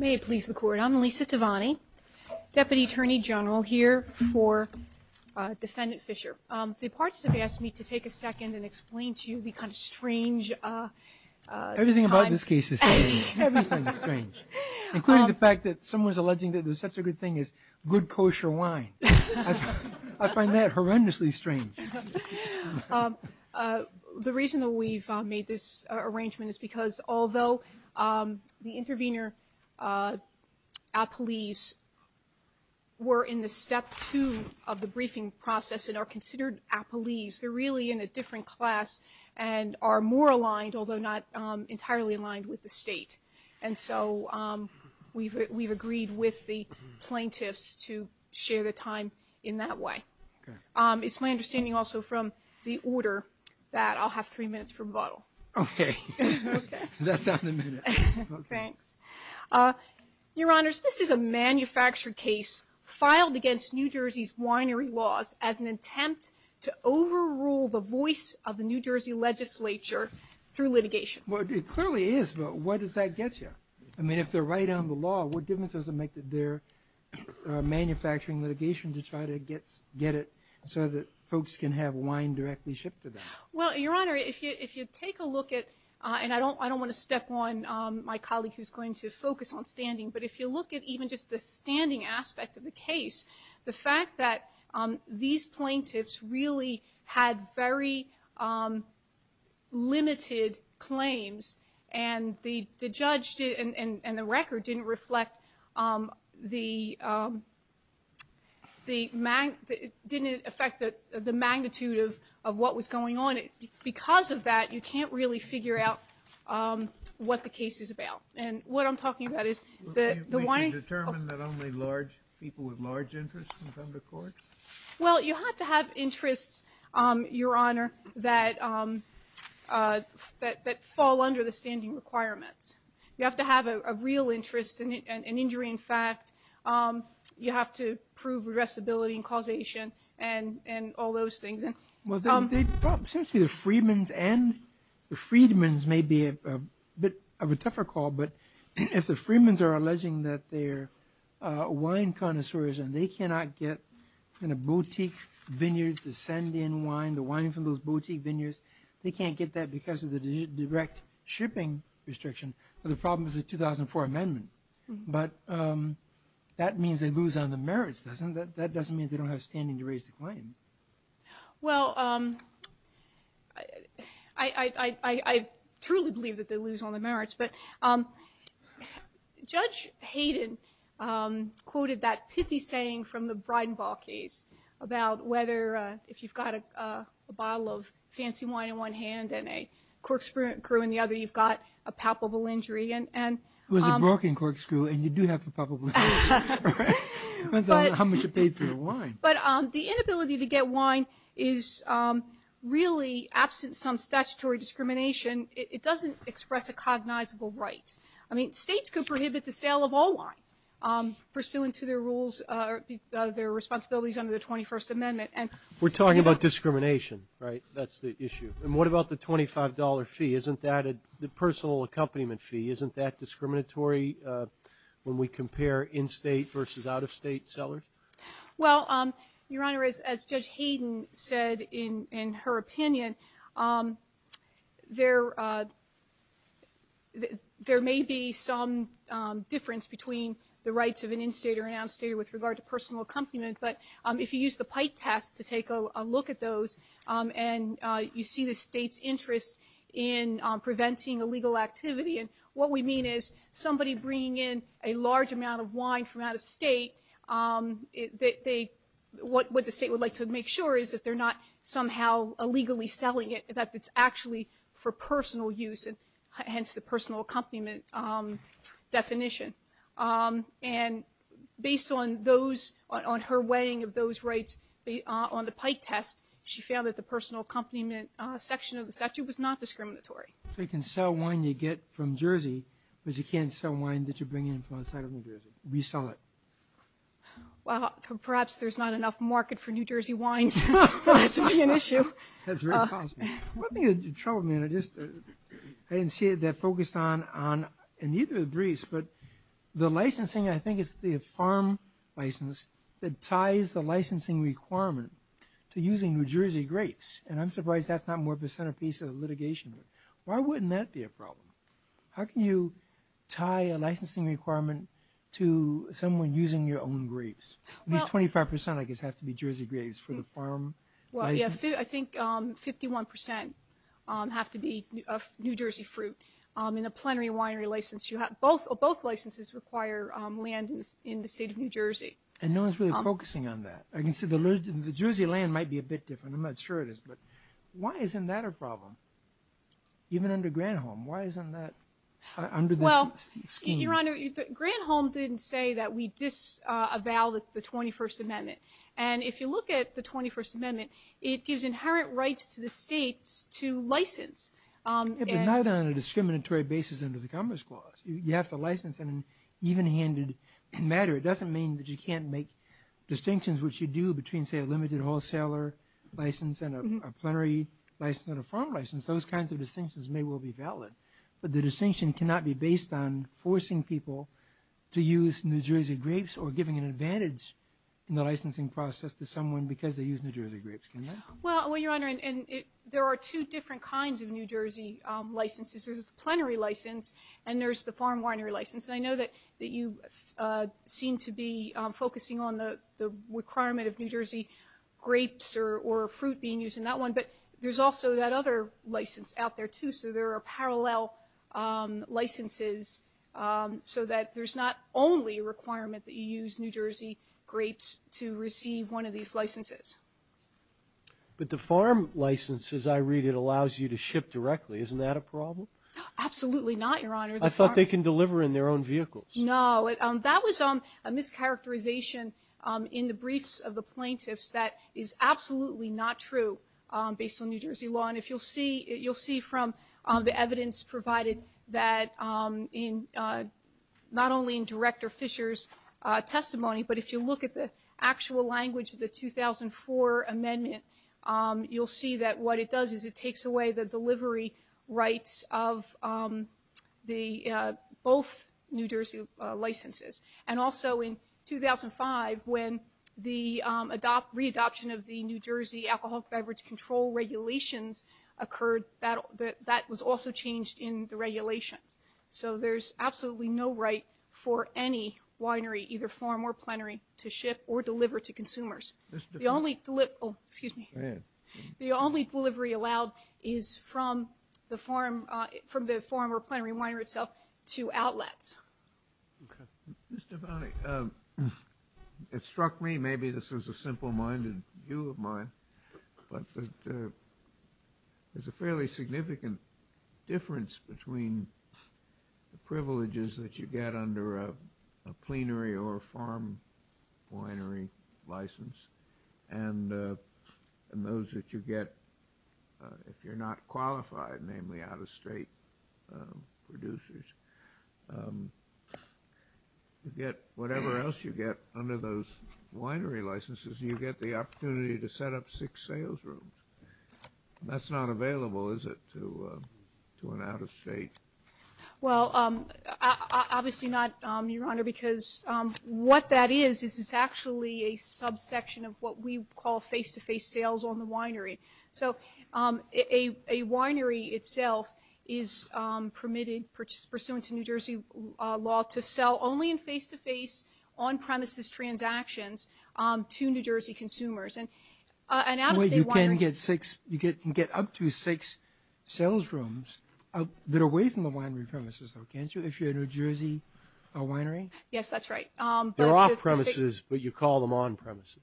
I'm Lisa Tavani, Deputy Attorney General here for Defendant Fisher. The parts that they asked me to take a second and explain to you become strange. Everything about this case is strange. Everything is strange. Including the fact that someone's alleging that there's such a good thing as good kosher wine. I find that horrendously strange. The reason that we've made this arrangement is because although the intervener appellees were in the step two of the briefing process and are considered appellees, they're really in a different class and are more aligned, although not entirely aligned, with the state. And so we've agreed with the plaintiffs to share the time in that way. It's my understanding also from the order that I'll have three minutes for a bottle. Okay. That's not a minute. Okay. Your Honors, this is a manufactured case filed against New Jersey's winery laws as an attempt to overrule the voice of the New Jersey legislature through litigation. Well, it clearly is, but where does that get you? I mean, if they're right on the law, what difference does it make that they're manufacturing litigation to try to get it so that folks can have wine directly shipped to them? Well, Your Honor, if you take a look at, and I don't want to step on my colleague who's going to focus on standing, but if you look at even just the standing aspect of the case, the fact that these plaintiffs really had very limited claims and the judge and the record didn't reflect the magnitude of what was going on. Because of that, you can't really figure out what the case is about. And what I'm talking about is the wine. We can determine that only large people with large interests can come to court? Well, you have to have interests, Your Honor, that fall under the standing requirements. You have to have a real interest, an injury in fact. You have to prove regressibility and causation and all those things. Well, the Freedmen's may be a bit of a tougher call, but if the Freedmen's are alleging that they're wine connoisseurs and they cannot get the boutique vineyards to send in wine, the wine from those boutique vineyards, they can't get that because of the direct shipping restriction, the problem is the 2004 amendment. But that means they lose on the merits, doesn't it? That doesn't mean they don't have standing to raise the claim. But Judge Hayden quoted that pithy saying from the Breidenbach case about whether if you've got a bottle of fancy wine in one hand and a corkscrew in the other, you've got a palpable injury. It was a broken corkscrew and you do have a palpable injury. Depends on how much you paid for your wine. But the inability to get wine is really absent some statutory discrimination. It doesn't express a cognizable right. I mean, states can prohibit the sale of all wine, pursuant to their responsibilities under the 21st Amendment. We're talking about discrimination, right? That's the issue. And what about the $25 fee? Isn't that a personal accompaniment fee? Isn't that discriminatory when we compare in-state versus out-of-state sellers? Well, Your Honor, as Judge Hayden said in her opinion, there may be some difference between the rights of an in-state or an out-of-state with regard to personal accompaniment. But if you use the Pike Tax to take a look at those and you see the state's interest in preventing illegal activity, and what we mean is somebody bringing in a large amount of wine from out-of-state, what the state would like to make sure is that they're not somehow illegally selling it, that it's actually for personal use, hence the personal accompaniment definition. And based on her weighing of those rights on the Pike Tax, she found that the personal accompaniment section of the statute was not discriminatory. So you can sell wine you get from Jersey, but you can't sell wine that you're bringing in from outside of New Jersey. We sell it. Well, perhaps there's not enough market for New Jersey wine. It's really an issue. That's very possible. One thing that troubled me, and I didn't see it that focused on, and you can agree, but the licensing, I think it's the farm license, that ties the licensing requirement to using New Jersey grapes. And I'm surprised that's not more of a centerpiece of litigation. Why wouldn't that be a problem? How can you tie a licensing requirement to someone using your own grapes? I mean 25 percent, I guess, have to be Jersey grapes for the farm license. I think 51 percent have to be New Jersey fruit. In a plenary winery license, both licenses require land in the state of New Jersey. And no one's really focusing on that. The Jersey land might be a bit different. I'm not sure it is, but why isn't that a problem? Even under Granholm, why isn't that under the scheme? Well, Your Honor, Granholm didn't say that we disavow the 21st Amendment. And if you look at the 21st Amendment, it gives inherent rights to the state to license. But not on a discriminatory basis under the Commerce Clause. You have to license in an even-handed matter. It doesn't mean that you can't make distinctions, which you do between, say, a limited wholesaler license and a plenary license and a farm license. Those kinds of distinctions may well be valid. But the distinction cannot be based on forcing people to use New Jersey grapes or giving an advantage in the licensing process to someone because they use New Jersey grapes. Well, Your Honor, there are two different kinds of New Jersey licenses. There's a plenary license, and there's the farm winery license. I know that you seem to be focusing on the requirement of New Jersey grapes or fruit being used in that one. But there's also that other license out there, too. So there are parallel licenses so that there's not only a requirement that you use New Jersey grapes to receive one of these licenses. But the farm license, as I read it, allows you to ship directly. Isn't that a problem? Absolutely not, Your Honor. I thought they can deliver in their own vehicles. No. That was a mischaracterization in the briefs of the plaintiffs that is absolutely not true based on New Jersey law. And you'll see from the evidence provided that not only in Director Fisher's testimony, but if you look at the actual language of the 2004 amendment, you'll see that what it does is it takes away the delivery rights of both New Jersey licenses. And also in 2005, when the re-adoption of the New Jersey alcohol beverage control regulations occurred, that was also changed in the regulation. So there's absolutely no right for any winery, either farm or plenary, to ship or deliver to consumers. Excuse me. Go ahead. The only delivery allowed is from the farm or plenary winery itself to outlets. Okay. It struck me, maybe this is a simple-minded view of mine, but that there's a fairly significant difference between the privileges that you get under a plenary or farm winery license and those that you get if you're not qualified, namely out-of-state producers. You get whatever else you get under those winery licenses. You get the opportunity to set up six sales rooms. That's not available, is it, to an out-of-state? Well, obviously not, Your Honor, because what that is, is it's actually a subsection of what we call face-to-face sales on the winery. So a winery itself is permitted, pursuant to New Jersey law, to sell only in face-to-face, on-premises transactions to New Jersey consumers. You can get up to six sales rooms that are away from the winery premises, though, can't you, if you're a New Jersey winery? Yes, that's right. They're off-premises, but you call them on-premises.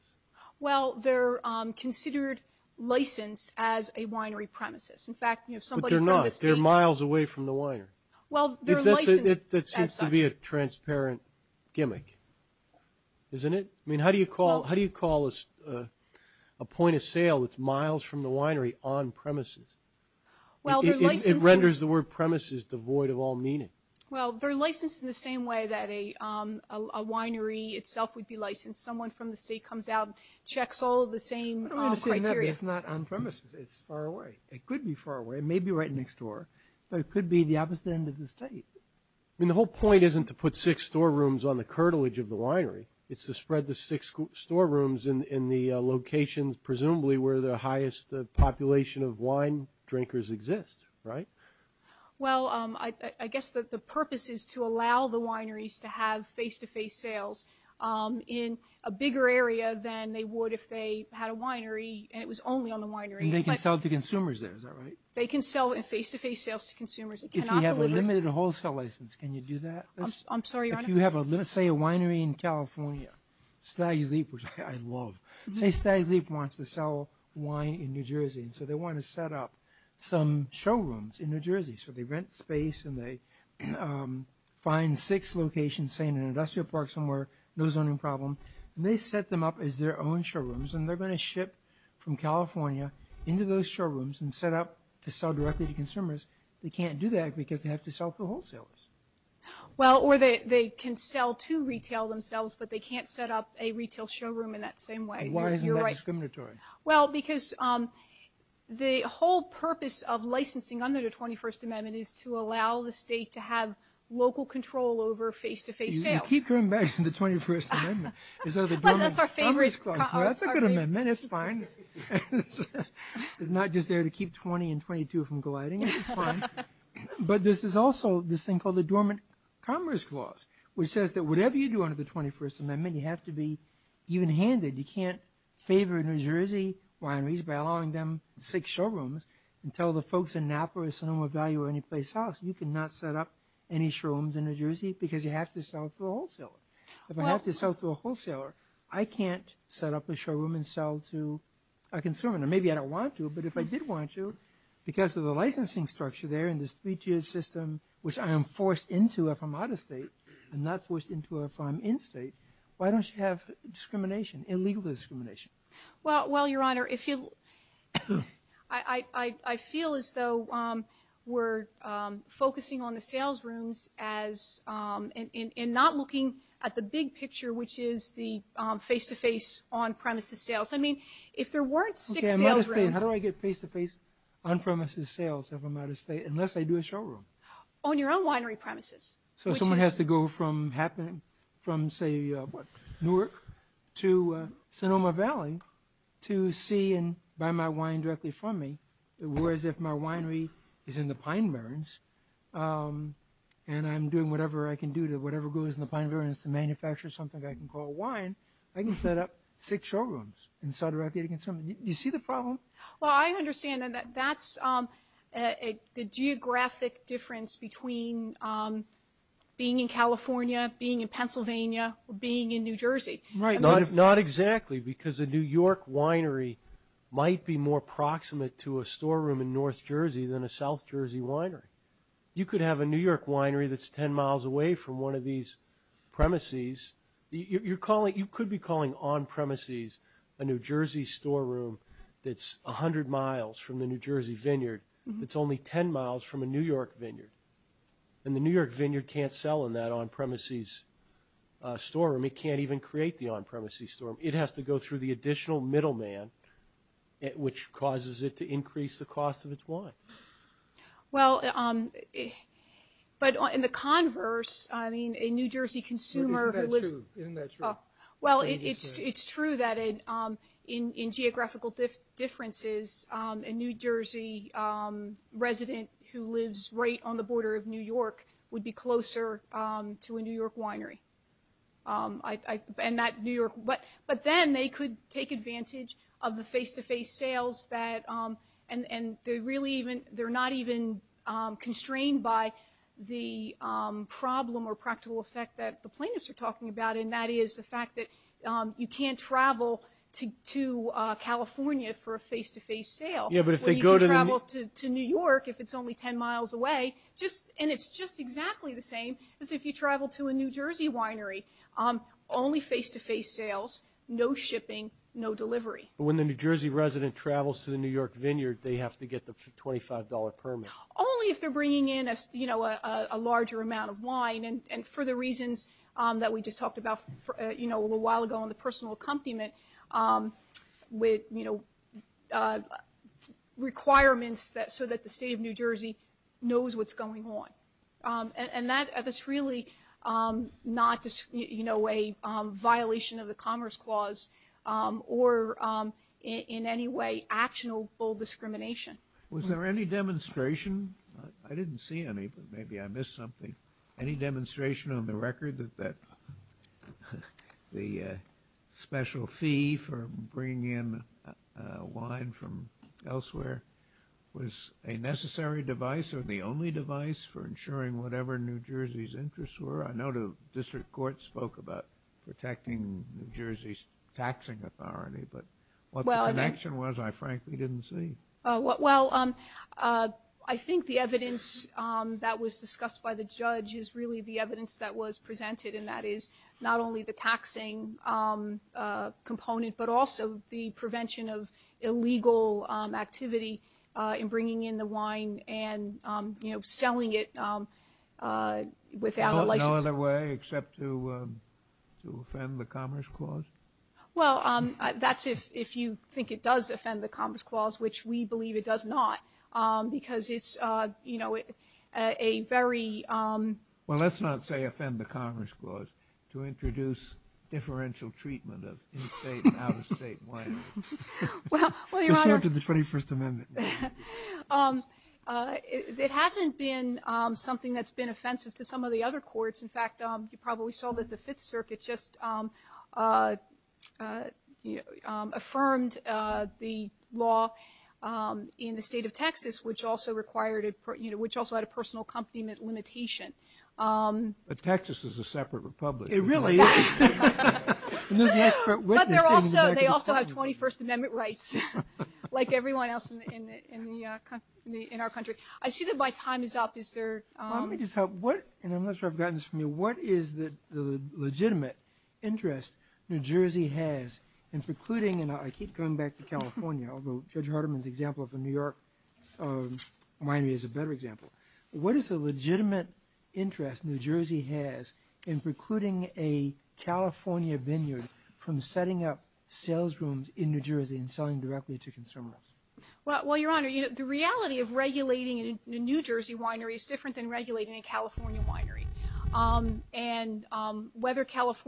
Well, they're considered licensed as a winery premises. But they're not. They're miles away from the winery. That seems to be a transparent gimmick, isn't it? I mean, how do you call a point of sale that's miles from the winery on-premises? It renders the word premises devoid of all meaning. Well, they're licensed in the same way that a winery itself would be licensed. Someone from the state comes out and checks all of the same criteria. It's not on-premises. It's far away. It could be far away. It may be right next door. But it could be the opposite end of the state. I mean, the whole point isn't to put six storerooms on the curtilage of the winery. It's to spread the six storerooms in the locations, presumably, where the highest population of wine drinkers exist, right? Well, I guess the purpose is to allow the wineries to have face-to-face sales in a bigger area than they would if they had a winery and it was only on the winery. And they can sell to consumers there, is that right? They can sell in face-to-face sales to consumers. If you have a limited wholesale license, can you do that? I'm sorry, your Honor? If you have, let's say, a winery in California, Stag Leap, which I love. Say Stag Leap wants to sell wine in New Jersey. So they want to set up some showrooms in New Jersey. So they rent space and they find six locations, say, in an industrial park somewhere. No zoning problem. And they set them up as their own showrooms. And they're going to ship from California into those showrooms and set up to sell directly to consumers. They can't do that because they have to sell for wholesales. Well, or they can sell to retail themselves, but they can't set up a retail showroom in that same way. Why isn't that discriminatory? Well, because the whole purpose of licensing under the 21st Amendment is to allow the state to have local control over face-to-face sales. You keep coming back to the 21st Amendment. That's our favorite. That's a good amendment. It's fine. It's not just there to keep 20 and 22 from colliding. It's fine. But this is also this thing called the Dormant Commerce Clause, which says that whatever you do under the 21st Amendment, you have to be evenhanded. You can't favor New Jersey wineries by allowing them six showrooms and tell the folks in Napa or Sonoma Valley or anyplace else, you cannot set up any showrooms in New Jersey because you have to sell to a wholesaler. If I have to sell to a wholesaler, I can't set up a showroom and sell to a consumer. Now, maybe I don't want to, but if I did want to, because of the licensing structure there and this three-tier system, which I am forced into if I'm out of state and not forced into if I'm in state, why don't you have discrimination? Illegal discrimination. Well, Your Honor, I feel as though we're focusing on the sales rooms and not looking at the big picture, which is the face-to-face on-premises sales. I mean, if there weren't six sales rooms. How do I get face-to-face on-premises sales if I'm out of state, unless I do a showroom? On your own winery premises. So someone has to go from, say, Newark to Sonoma Valley to see and buy my wine directly from me. In other words, if my winery is in the Pine Barrens and I'm doing whatever I can do to whatever goes in the Pine Barrens to manufacture something that I can call wine, I can set up six showrooms and sell directly to consumers. Do you see the problem? Well, I understand that that's the geographic difference between being in California, being in Pennsylvania, or being in New Jersey. Right, not exactly, because a New York winery might be more proximate to a storeroom in North Jersey than a South Jersey winery. You could have a New York winery that's 10 miles away from one of these premises. You could be calling on-premises a New Jersey storeroom that's 100 miles from the New Jersey vineyard that's only 10 miles from a New York vineyard. And the New York vineyard can't sell in that on-premises storeroom. It can't even create the on-premises storeroom. It has to go through the additional middleman, which causes it to increase the cost of its wine. Well, but in the converse, I mean, a New Jersey consumer who lives... Isn't that true? Well, it's true that in geographical differences, a New Jersey resident who lives right on the border of New York would be closer to a New York winery. But then they could take advantage of the face-to-face sales, and they're not even constrained by the problem or practical effect that the plaintiffs are talking about, and that is the fact that you can't travel to California for a face-to-face sale. You can travel to New York if it's only 10 miles away, and it's just exactly the same as if you travel to a New Jersey winery. Only face-to-face sales, no shipping, no delivery. When the New Jersey resident travels to the New York vineyard, they have to get the $25 permit. Only if they're bringing in a larger amount of wine, and for the reasons that we just talked about a little while ago on the personal accompaniment with requirements so that the state of New Jersey knows what's going on. And that is really not a violation of the Commerce Clause or in any way actionable discrimination. Was there any demonstration? I didn't see any, but maybe I missed something. Any demonstration on the record that the special fee for bringing in wine from elsewhere was a necessary device or the only device for ensuring whatever New Jersey's interests were? I know the district court spoke about protecting New Jersey's taxing authority, but what the connection was I frankly didn't see. Well, I think the evidence that was discussed by the judge is really the evidence that was presented, and that is not only the taxing component, but also the prevention of illegal activity in bringing in the wine and selling it without a license. No other way except to offend the Commerce Clause? Well, that's if you think it does offend the Commerce Clause, which we believe it does not because it's a very... Well, let's not say offend the Commerce Clause, to introduce differential treatment of in-state and out-of-state wine. Compared to the 21st Amendment. It hasn't been something that's been offensive to some of the other courts. In fact, you probably saw that the Fifth Circuit just affirmed the law in the state of Texas, which also had a personal accompaniment limitation. But Texas is a separate republic. It really is. But they also have 21st Amendment rights, like everyone else in our country. I see that my time is up. Let me just ask, and I'm not sure I've gotten this from you, what is the legitimate interest New Jersey has in precluding, and I keep coming back to California, although Judge Hardiman's example of the New York winery is a better example. What is the legitimate interest New Jersey has in precluding a California vineyard from setting up sales rooms in New Jersey and selling directly to consumers? Well, Your Honor, the reality of regulating a New Jersey winery is different than regulating a California winery.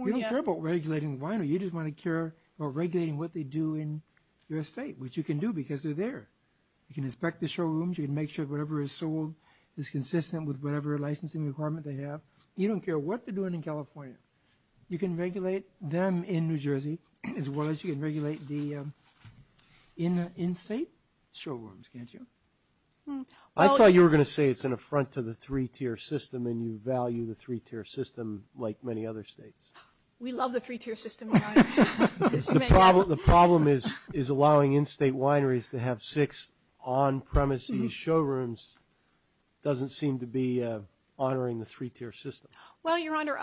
You don't care about regulating the winery. You just want to care about regulating what they do in their estate, which you can do because they're there. You can inspect the showrooms. You can make sure whatever is sold is consistent with whatever licensing requirement they have. You don't care what they're doing in California. You can regulate them in New Jersey as well as you can regulate the in-state showrooms, can't you? I thought you were going to say it's an affront to the three-tier system and you value the three-tier system like many other states. We love the three-tier system. The problem is allowing in-state wineries to have six on-premises showrooms doesn't seem to be honoring the three-tier system. Well, Your Honor,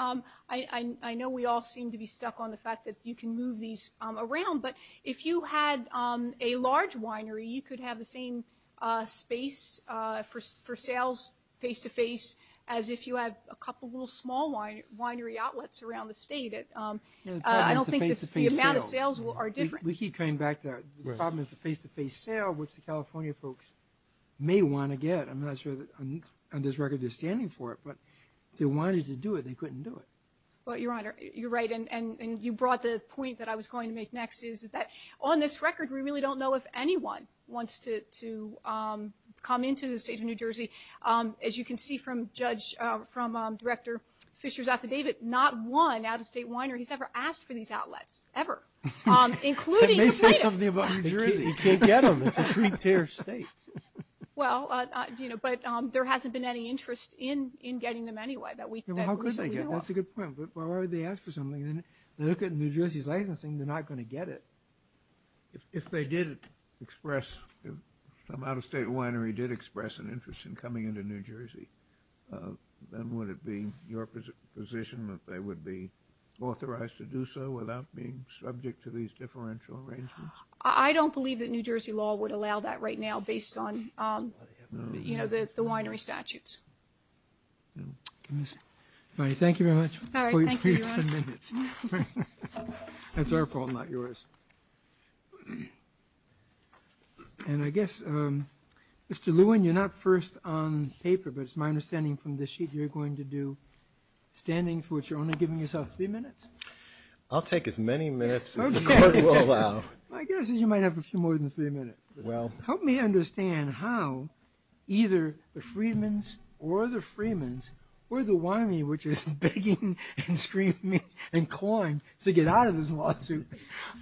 I know we all seem to be stuck on the fact that you can move these around, but if you had a large winery, you could have the same space for sales face-to-face as if you had a couple little small winery outlets around the state. I don't think the amount of sales are different. We keep coming back to the problem is the face-to-face sale, which the California folks may want to get. I'm not sure on this record they're standing for it, but if they wanted to do it, they couldn't do it. Well, Your Honor, you're right, and you brought the point that I was going to make next is that on this record, we really don't know if anyone wants to come into the state of New Jersey. As you can see from Director Fischer's affidavit, not one out-of-state winery has ever asked for these outlets, ever. They may say something about New Jersey. You can't get them. It's a three-tier state. Well, but there hasn't been any interest in getting them anyway. How could they get them? That's a good point. If they ask for something and they look at New Jersey's licensing, they're not going to get it. If they did express, if some out-of-state winery did express an interest in coming into New Jersey, then would it be your position that they would be authorized to do so without being subject to these differential ratings? I don't believe that New Jersey law would allow that right now based on the winery statutes. All right. Thank you very much. All right. Thank you. That's our fault, not yours. And I guess, Mr. Lewin, you're not first on paper, but it's my understanding from this sheet you're going to do standing, for which you're only giving yourself three minutes. I'll take as many minutes as the court will allow. My guess is you might have a few more than three minutes. Help me understand how either the Freedmans or the Freemans or the winery, which is begging and screaming and clawing to get out of this lawsuit,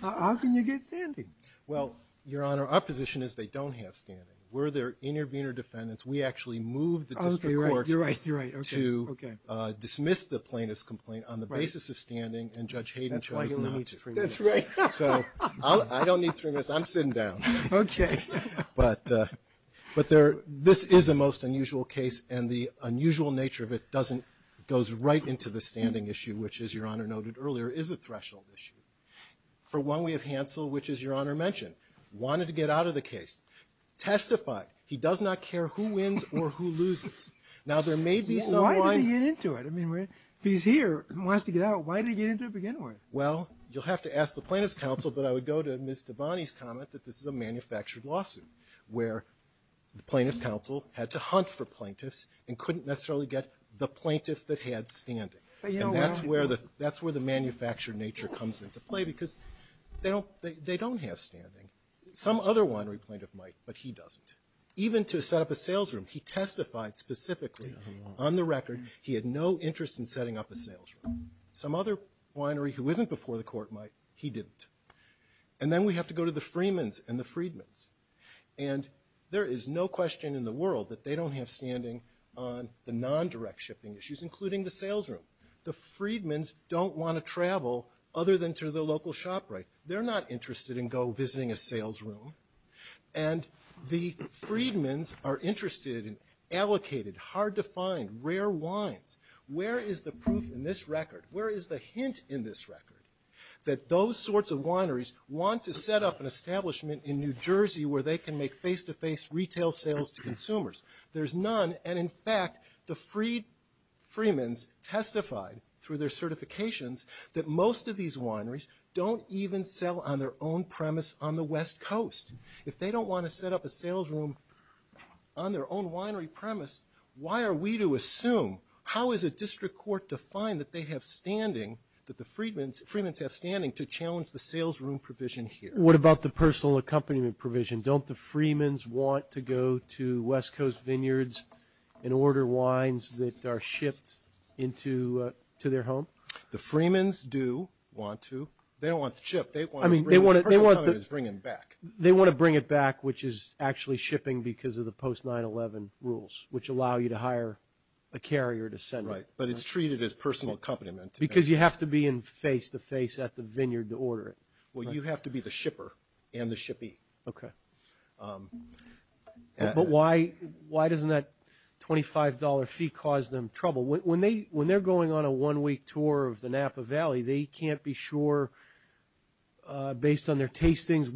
how can you get standing? Well, Your Honor, our position is they don't have standing. We're their intervener defendants. We actually moved the district court to dismiss the plaintiff's complaint on the basis of standing, and Judge Hayden tried to limit it. That's right. So I don't need three minutes. I'm sitting down. Okay. But this is the most unusual case, and the unusual nature of it goes right into the standing issue, which, as Your Honor noted earlier, is a threshold issue. For one, we have Hansel, which, as Your Honor mentioned, wanted to get out of the case. Testify. He does not care who wins or who loses. Now, there may be some lines. Why did he get into it? I mean, he's here and wants to get out. Why did he get into it if he didn't want to? Well, you'll have to ask the plaintiff's counsel, but I would go to Ms. Devani's comment that this is a manufactured lawsuit where the plaintiff's counsel had to hunt for plaintiffs and couldn't necessarily get the plaintiff that had standing. And that's where the manufactured nature comes into play because they don't have standing. Some other winery plaintiff might, but he doesn't. Even to set up a salesroom, he testified specifically on the record he had no interest in setting up a salesroom. Some other winery who isn't before the court might, he didn't. And then we have to go to the Freedman's and the Freedman's. And there is no question in the world that they don't have standing on the non-direct shipping issues, including the salesroom. The Freedman's don't want to travel other than to the local shop, right? They're not interested in go visiting a salesroom. And the Freedman's are interested in allocated, hard-to-find, rare wines. Where is the proof in this record? Where is the hint in this record that those sorts of wineries want to set up an establishment in New Jersey where they can make face-to-face retail sales to consumers? There's none, and in fact, the Freedman's testified through their certifications that most of these wineries don't even sell on their own premise on the West Coast. If they don't want to set up a salesroom on their own winery premise, why are we to assume, how is a district court to find that they have standing, that the Freedman's have standing to challenge the salesroom provision here? What about the personal accompaniment provision? Don't the Freedman's want to go to West Coast Vineyards and order wines that are shipped into their home? The Freedman's do want to. They don't want to ship. I mean, they want to bring it back, which is actually shipping because of the post-9-11 rules, which allow you to hire a carrier to send it. Right, but it's treated as personal accompaniment. Because you have to be in face-to-face at the vineyard to order it. Well, you have to be the shipper and the shippee. Okay. But why doesn't that $25 fee cause them trouble? When they're going on a one-week tour of the Napa Valley, they can't be sure, based on their tastings,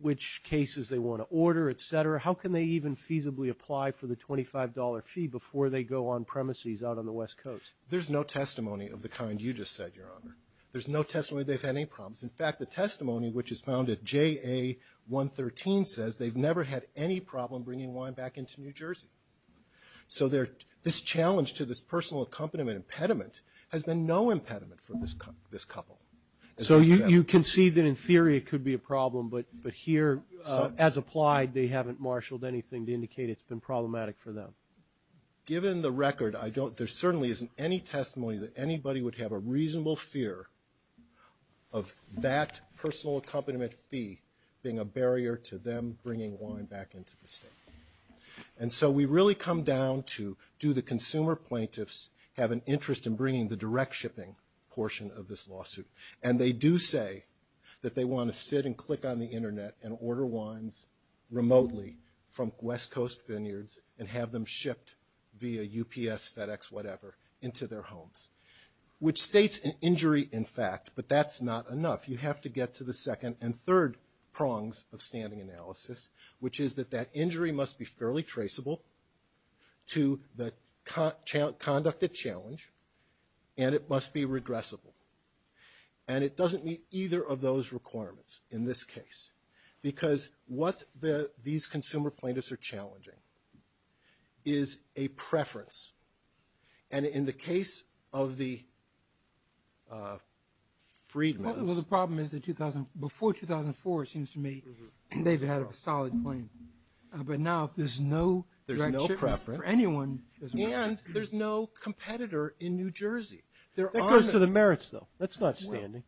which cases they want to order, et cetera. How can they even feasibly apply for the $25 fee before they go on premises out on the West Coast? There's no testimony of the kind you just said, Your Honor. There's no testimony they've had any problems. In fact, the testimony, which is found at JA-113, says they've never had any problem bringing wine back into New Jersey. So this challenge to this personal accompaniment impediment has been no impediment for this couple. So you can see that, in theory, it could be a problem, but here, as applied, they haven't marshaled anything to indicate it's been problematic for them. Given the record, there certainly isn't any testimony that anybody would have a reasonable fear of that personal accompaniment fee being a barrier to them bringing wine back into the state. And so we really come down to do the consumer plaintiffs have an interest in bringing the direct shipping portion of this lawsuit. And they do say that they want to sit and click on the Internet and order wines remotely from West Coast vineyards and have them shipped via UPS, FedEx, whatever, into their homes, which states an injury in fact, but that's not enough. You have to get to the second and third prongs of standing analysis, which is that that injury must be fairly traceable to the conduct of challenge, and it must be regressible. And it doesn't meet either of those requirements in this case because what these consumer plaintiffs are challenging is a preference. And in the case of the freedmen... But now there's no direct shipping for anyone. And there's no competitor in New Jersey. That goes to the merits, though. That's not standing.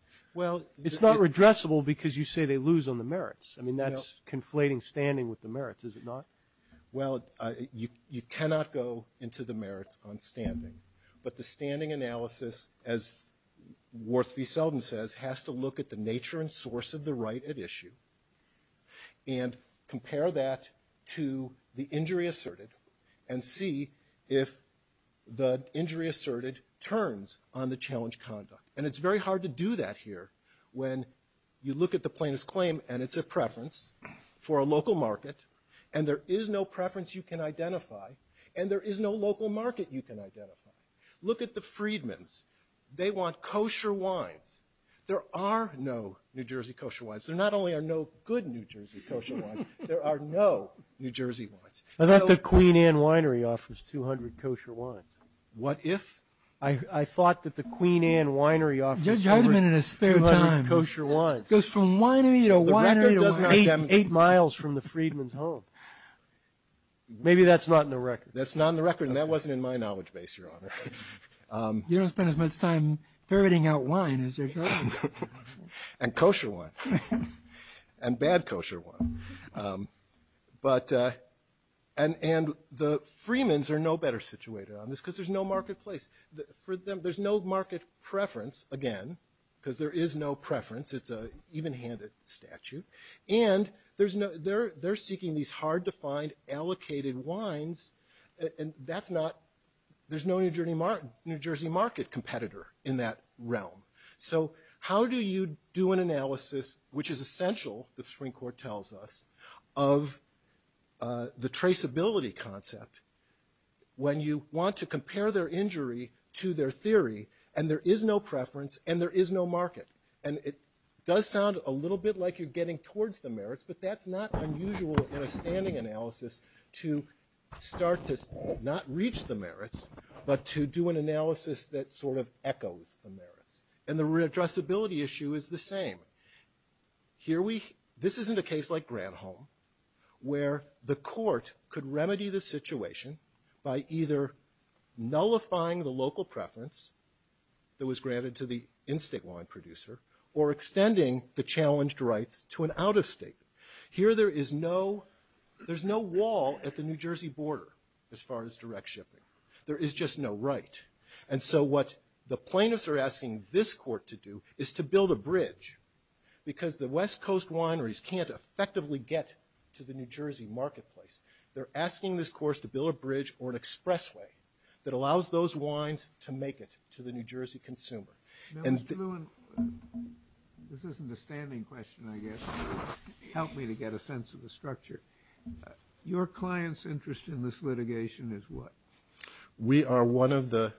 It's not regressible because you say they lose on the merits. I mean, that's conflating standing with the merits, is it not? Well, you cannot go into the merits on standing, but the standing analysis, as Worthy Selden says, has to look at the nature and source of the right at issue and compare that to the injury asserted and see if the injury asserted turns on the challenge conduct. And it's very hard to do that here when you look at the plaintiff's claim and it's a preference for a local market, and there is no preference you can identify, and there is no local market you can identify. Look at the freedmen. They want kosher wines. There are no New Jersey kosher wines. There not only are no good New Jersey kosher wines, there are no New Jersey wines. I thought the Queen Anne Winery offers 200 kosher wines. What if? I thought that the Queen Anne Winery offers 200 kosher wines. It goes from winery to winery to winery. It goes eight miles from the freedman's home. Maybe that's not in the record. That's not in the record, and that wasn't in my knowledge base, Your Honor. You don't spend as much time ferreting out wine as they do. And kosher wine. And bad kosher wine. And the freemans are no better situated on this because there's no marketplace. There's no market preference, again, because there is no preference. It's an even-handed statute. And they're seeking these hard-to-find allocated wines, and there's no New Jersey market competitor in that realm. So how do you do an analysis, which is essential, the Supreme Court tells us, of the traceability concept when you want to compare their injury to their theory and there is no preference and there is no market? And it does sound a little bit like you're getting towards the merits, but that's not unusual for a standing analysis to start to not reach the merits but to do an analysis that sort of echoes the merits. And the addressability issue is the same. This isn't a case like Granholm where the court could remedy the situation by either nullifying the local preference that was granted to the in-state wine producer or extending the challenged rights to an out-of-state. Here there is no wall at the New Jersey border as far as direct shipping. There is just no right. And so what the plaintiffs are asking this court to do is to build a bridge because the West Coast wineries can't effectively get to the New Jersey marketplace. They're asking this court to build a bridge or an expressway that allows those wines to make it to the New Jersey consumer. Now, Mr. Lewin, this isn't a standing question, I guess. Help me to get a sense of the structure. Your client's interest in this litigation is what? We are one of the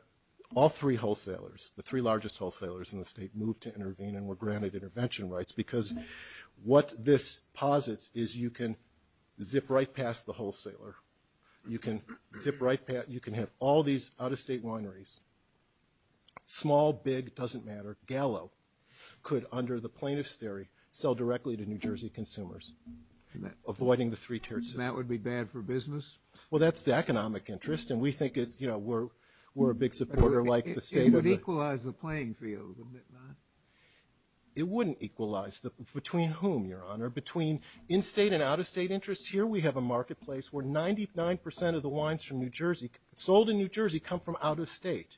all three wholesalers, the three largest wholesalers in the state, moved to intervene and were granted intervention rights because what this posits is you can zip right past the wholesaler. You can have all these out-of-state wineries, small, big, doesn't matter, gallow, could under the plaintiff's theory sell directly to New Jersey consumers avoiding the three-tiered system. So that would be bad for business? Well, that's the economic interest, and we think we're a big supporter like the state. It would equalize the playing field, wouldn't it not? It wouldn't equalize. Between whom, Your Honor? Between in-state and out-of-state interests? Here we have a marketplace where 99% of the wines sold in New Jersey come from out-of-state.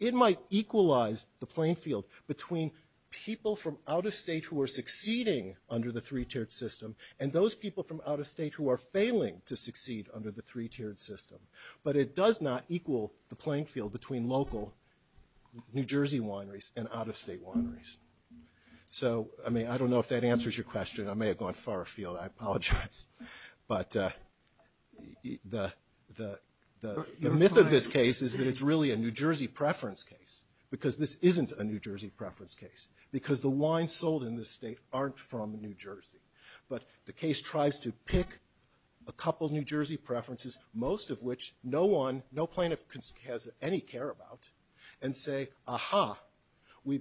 It might equalize the playing field between people from out-of-state who are succeeding under the three-tiered system and those people from out-of-state who are failing to succeed under the three-tiered system. But it does not equal the playing field between local New Jersey wineries and out-of-state wineries. So, I mean, I don't know if that answers your question. I may have gone far afield. I apologize. But the myth of this case is that it's really a New Jersey preference case because this isn't a New Jersey preference case because the wines sold in this state aren't from New Jersey. But the case tries to pick a couple New Jersey preferences, most of which no one, no plaintiff has any care about, and say, aha, we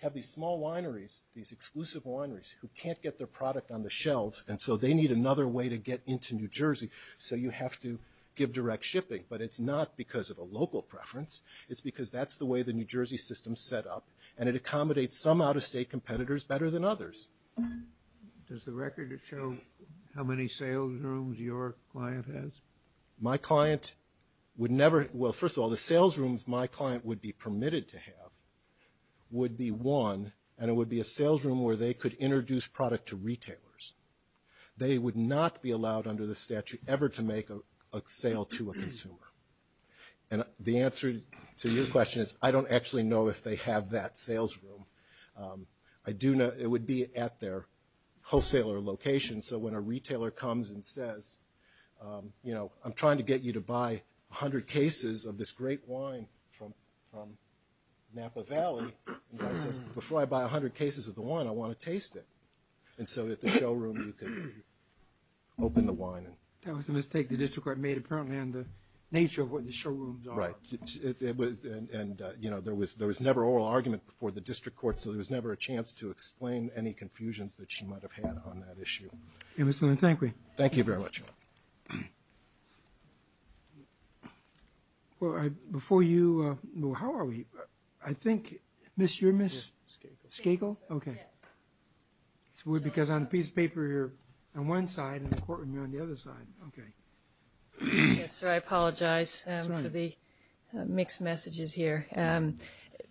have these small wineries, these exclusive wineries, who can't get their product on the shelves, and so they need another way to get into New Jersey, so you have to give direct shipping. But it's not because of a local preference. It's because that's the way the New Jersey system is set up, and it accommodates some out-of-state competitors better than others. Does the record show how many sales rooms your client has? My client would never – well, first of all, the sales rooms my client would be permitted to have would be one, and it would be a sales room where they could introduce product to retailers. They would not be allowed under the statute ever to make a sale to a consumer. And the answer to your question is I don't actually know if they have that sales room. I do know it would be at their wholesaler location, so when a retailer comes and says, you know, I'm trying to get you to buy 100 cases of this great wine from Napa Valley. Before I buy 100 cases of the wine, I want to taste it. And so at the showroom, you can open the wine. That was a mistake the district court made, apparently, in the nature of what the showrooms are. Right. And, you know, there was never oral argument before the district court, so there was never a chance to explain any confusions that she might have had on that issue. Thank you very much. Before you – how are we? I think – Miss, you're Miss Skagel? Skagel, okay. Because on the piece of paper, you're on one side, and the courtroom, you're on the other side. Okay. Yes, sir. I apologize for the mixed messages here.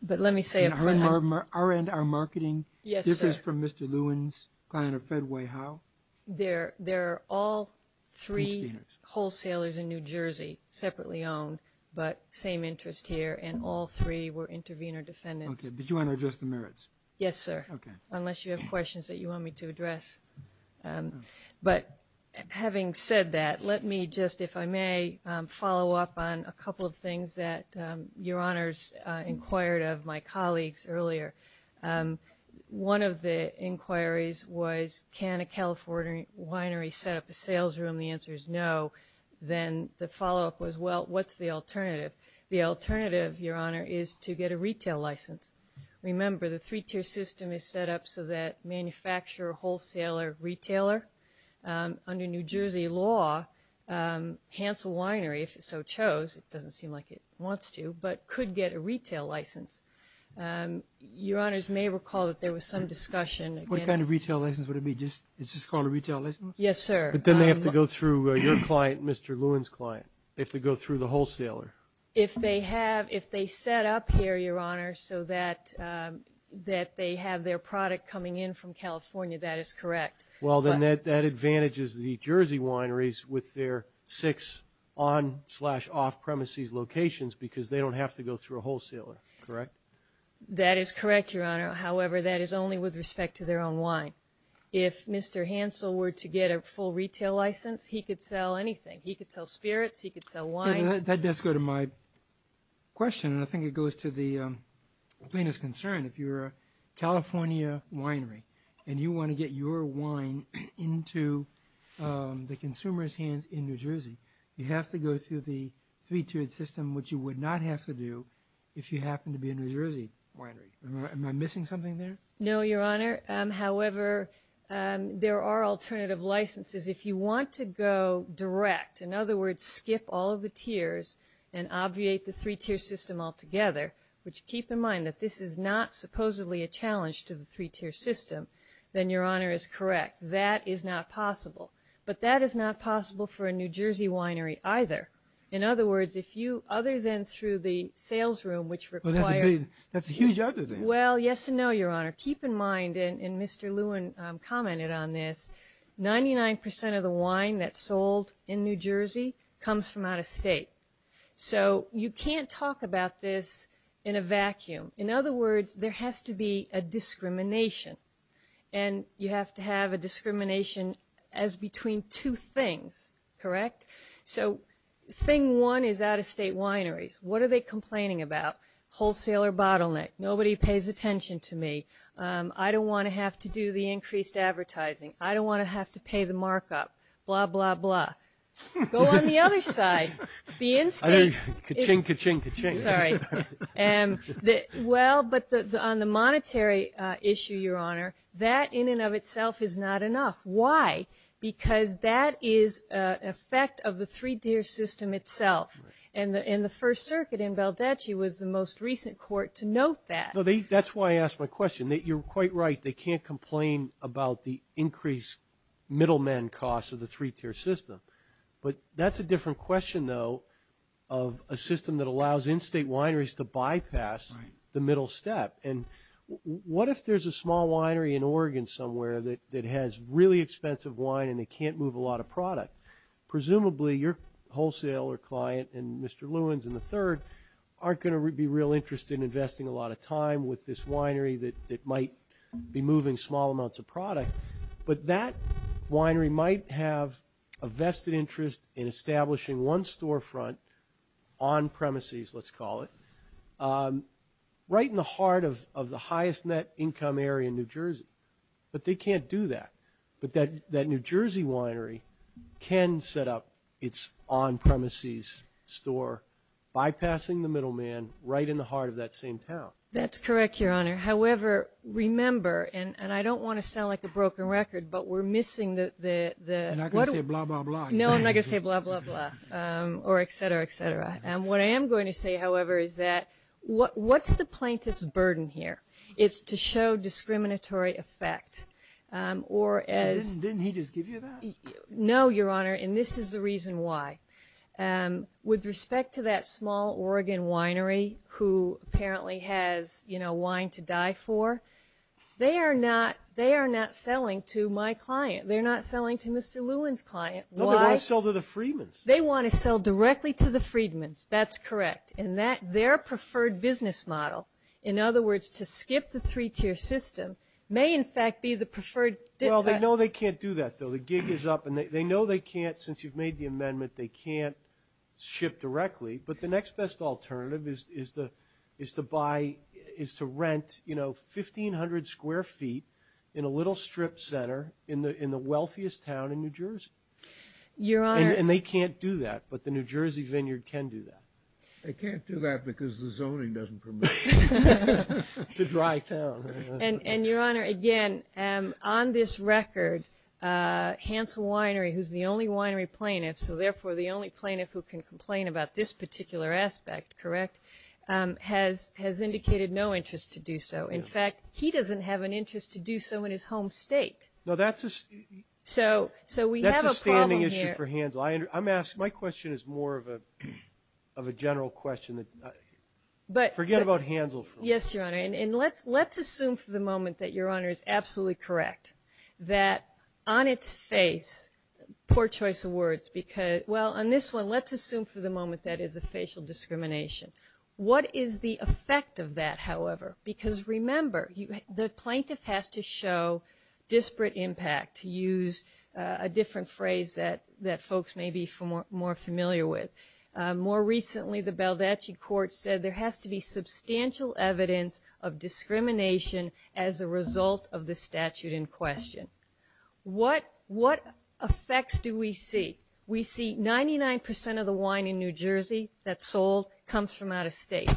But let me say – On our end, our marketing, this is from Mr. Lewin's Pioneer Fedway. How? There are all three wholesalers in New Jersey separately owned, but same interest here, and all three were intervener defendants. Okay. But you want to address the merits? Yes, sir. Okay. Unless you have questions that you want me to address. But having said that, let me just, if I may, follow up on a couple of things that Your Honors inquired of my colleagues earlier. One of the inquiries was, can a California winery set up a sales room? The answer is no. Then the follow-up was, well, what's the alternative? The alternative, Your Honor, is to get a retail license. Remember, the three-tier system is set up so that manufacturer, wholesaler, retailer, under New Jersey law, cancel winery if it so chose. It doesn't seem like it wants to, but could get a retail license. Your Honors may recall that there was some discussion. What kind of retail license would it be? Is this called a retail license? Yes, sir. But then they have to go through your client, Mr. Lewin's client. They have to go through the wholesaler. If they have, if they set up here, Your Honor, so that they have their product coming in from California, that is correct. Well, then that advantages the Jersey wineries with their six on-slash-off-premises locations because they don't have to go through a wholesaler, correct? That is correct, Your Honor. However, that is only with respect to their own wine. If Mr. Hansel were to get a full retail license, he could sell anything. He could sell spirits. He could sell wine. That does go to my question, and I think it goes to the plaintiff's concern. If you're a California winery and you want to get your wine into the consumer's hands in New Jersey, you have to go through the three-tiered system, which you would not have to do if you happen to be a New Jersey winery. Am I missing something there? No, Your Honor. However, there are alternative licenses. If you want to go direct, in other words, skip all of the tiers and obviate the three-tiered system altogether, which keep in mind that this is not supposedly a challenge to the three-tiered system, then Your Honor is correct. That is not possible. But that is not possible for a New Jersey winery either. In other words, other than through the sales room, which requires— That's a huge other thing. Well, yes and no, Your Honor. Keep in mind, and Mr. Lewin commented on this, 99% of the wine that's sold in New Jersey comes from out-of-state. So you can't talk about this in a vacuum. In other words, there has to be a discrimination, and you have to have a discrimination as between two things, correct? So thing one is out-of-state wineries. What are they complaining about? Wholesaler bottleneck. Nobody pays attention to me. I don't want to have to do the increased advertising. I don't want to have to pay the markup, blah, blah, blah. Go on the other side. The instance— Ka-ching, ka-ching, ka-ching. Sorry. Well, but on the monetary issue, Your Honor, that in and of itself is not enough. Why? Because that is an effect of the three-tiered system itself, and the First Circuit in Valdeci was the most recent court to note that. That's why I asked my question. You're quite right. They can't complain about the increased middleman costs of the three-tiered system. But that's a different question, though, of a system that allows in-state wineries to bypass the middle step. And what if there's a small winery in Oregon somewhere that has really expensive wine and they can't move a lot of product? Presumably your wholesaler client and Mr. Lewins and the third aren't going to be real interested in investing a lot of time with this winery that might be moving small amounts of product. But that winery might have a vested interest in establishing one storefront on premises, let's call it, right in the heart of the highest net income area in New Jersey. But they can't do that. But that New Jersey winery can set up its on-premises store, bypassing the middleman right in the heart of that same town. That's correct, Your Honor. However, remember, and I don't want to sound like a broken record, but we're missing the... I'm not going to say blah, blah, blah. No, I'm not going to say blah, blah, blah or et cetera, et cetera. What I am going to say, however, is that what's the plaintiff's burden here? It's to show discriminatory effect or as... Didn't he just give you that? No, Your Honor, and this is the reason why. With respect to that small Oregon winery who apparently has wine to die for, they are not selling to my client. They're not selling to Mr. Lewin's client. No, they want to sell to the Freedman's. They want to sell directly to the Freedman's. That's correct. And their preferred business model, in other words, to skip the three-tier system, may in fact be the preferred... Well, they know they can't do that, though. The gig is up. And they know they can't, since you've made the amendment, they can't ship directly. But the next best alternative is to rent 1,500 square feet in a little strip center in the wealthiest town in New Jersey. Your Honor... And they can't do that, but the New Jersey Vineyard can do that. They can't do that because the zoning doesn't permit it. It's a dry town. And, Your Honor, again, on this record, Hansel Winery, who's the only winery plaintiff, so therefore the only plaintiff who can complain about this particular aspect, correct, has indicated no interest to do so. In fact, he doesn't have an interest to do so in his home state. No, that's a standing issue for Hansel. My question is more of a general question. Forget about Hansel. Yes, Your Honor. And let's assume for the moment that Your Honor is absolutely correct that on its face, poor choice of words, because, well, on this one, let's assume for the moment that is a facial discrimination. What is the effect of that, however? Because, remember, the plaintiff has to show disparate impact, to use a different phrase that folks may be more familiar with. More recently, the Baldacci Court said there has to be substantial evidence of discrimination as a result of the statute in question. What effects do we see? We see 99% of the wine in New Jersey that's sold comes from out of state.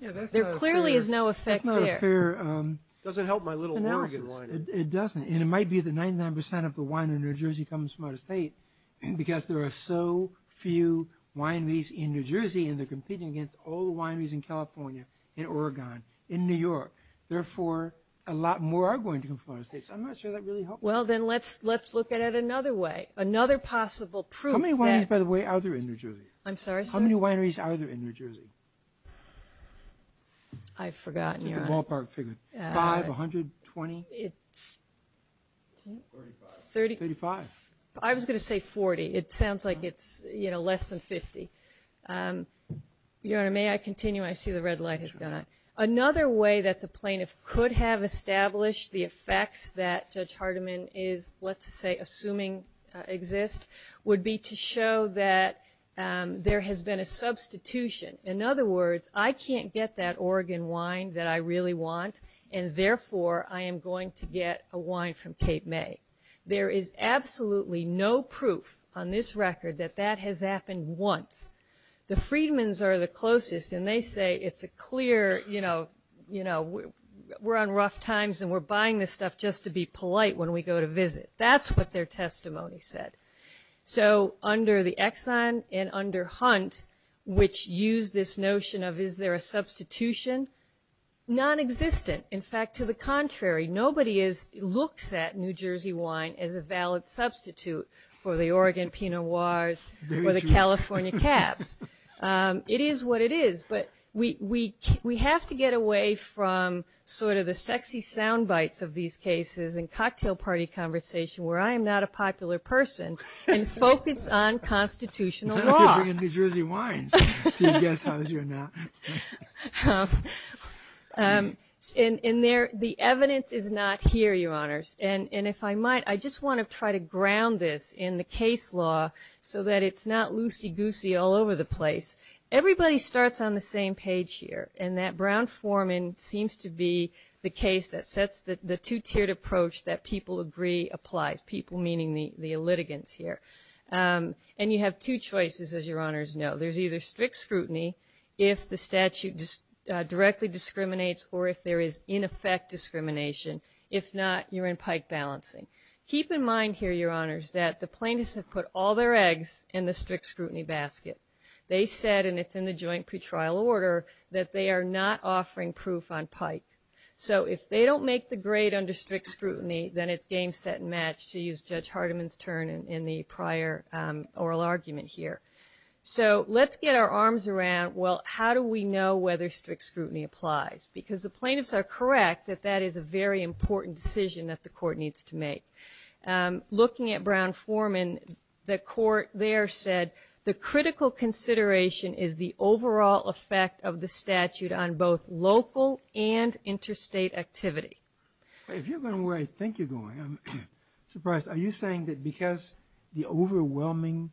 There clearly is no effect there. It doesn't help my little Oregon wine. It doesn't. And it might be that 99% of the wine in New Jersey comes from out of state because there are so few wineries in New Jersey and they're competing against all the wineries in California, in Oregon, in New York. Therefore, a lot more are going to come from out of state. So I'm not sure that really helps. Well, then let's look at it another way, another possible proof. How many wineries, by the way, are there in New Jersey? I'm sorry? How many wineries are there in New Jersey? I've forgotten, Your Honor. The ballpark figure. 5, 100, 20? 35. I was going to say 40. It sounds like it's, you know, less than 50. Your Honor, may I continue? I see the red light has gone on. Another way that the plaintiff could have established the effects that Judge Hardiman is, let's say, assuming exists would be to show that there has been a substitution. In other words, I can't get that Oregon wine that I really want, and therefore I am going to get a wine from Cape May. There is absolutely no proof on this record that that has happened once. The Freedmen's are the closest, and they say it's a clear, you know, we're on rough times and we're buying this stuff just to be polite when we go to visit. That's what their testimony said. So under the Exxon and under Hunt, which use this notion of is there a substitution, nonexistent. In fact, to the contrary, nobody looks at New Jersey wine as a valid substitute for the Oregon Pinot Noirs or the California Caps. It is what it is. But we have to get away from sort of the sexy sound bites of these cases and cocktail party conversation where I am not a popular person and focus on constitutional law. And the evidence is not here, Your Honors. And if I might, I just want to try to ground this in the case law so that it's not loosey-goosey all over the place. Everybody starts on the same page here, and that Brown-Forman seems to be the case that sets the two-tiered approach that people agree applies, people meaning the litigants here. And you have two choices, as Your Honors know. There's either strict scrutiny if the statute directly discriminates or if there is in effect discrimination. If not, you're in pike balancing. Keep in mind here, Your Honors, that the plaintiffs have put all their eggs in the strict scrutiny basket. They said, and it's in the joint pretrial order, that they are not offering proof on pike. So if they don't make the grade under strict scrutiny, then it's game, set, and match to use Judge Hardiman's turn in the prior oral argument here. So let's get our arms around, well, how do we know whether strict scrutiny applies? Because the plaintiffs are correct that that is a very important decision that the court needs to make. Looking at Brown-Forman, the court there said, the critical consideration is the overall effect of the statute on both local and interstate activity. If you're going where I think you're going, I'm surprised. Are you saying that because the overwhelming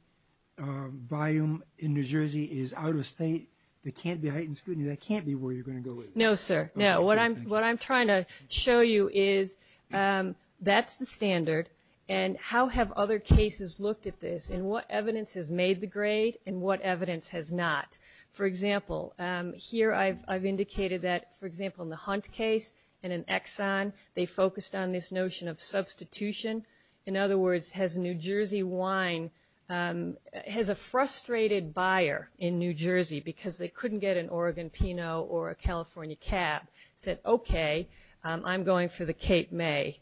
volume in New Jersey is out of state, there can't be heightened scrutiny, that can't be where you're going to go with it? No, sir. No, what I'm trying to show you is that's the standard. And how have other cases looked at this, and what evidence has made the grade and what evidence has not? For example, here I've indicated that, for example, in the Hunt case and in Exxon, they focused on this notion of substitution. In other words, has New Jersey wine, has a frustrated buyer in New Jersey, because they couldn't get an Oregon Pinot or a California Cab, said, okay, I'm going for the Cape May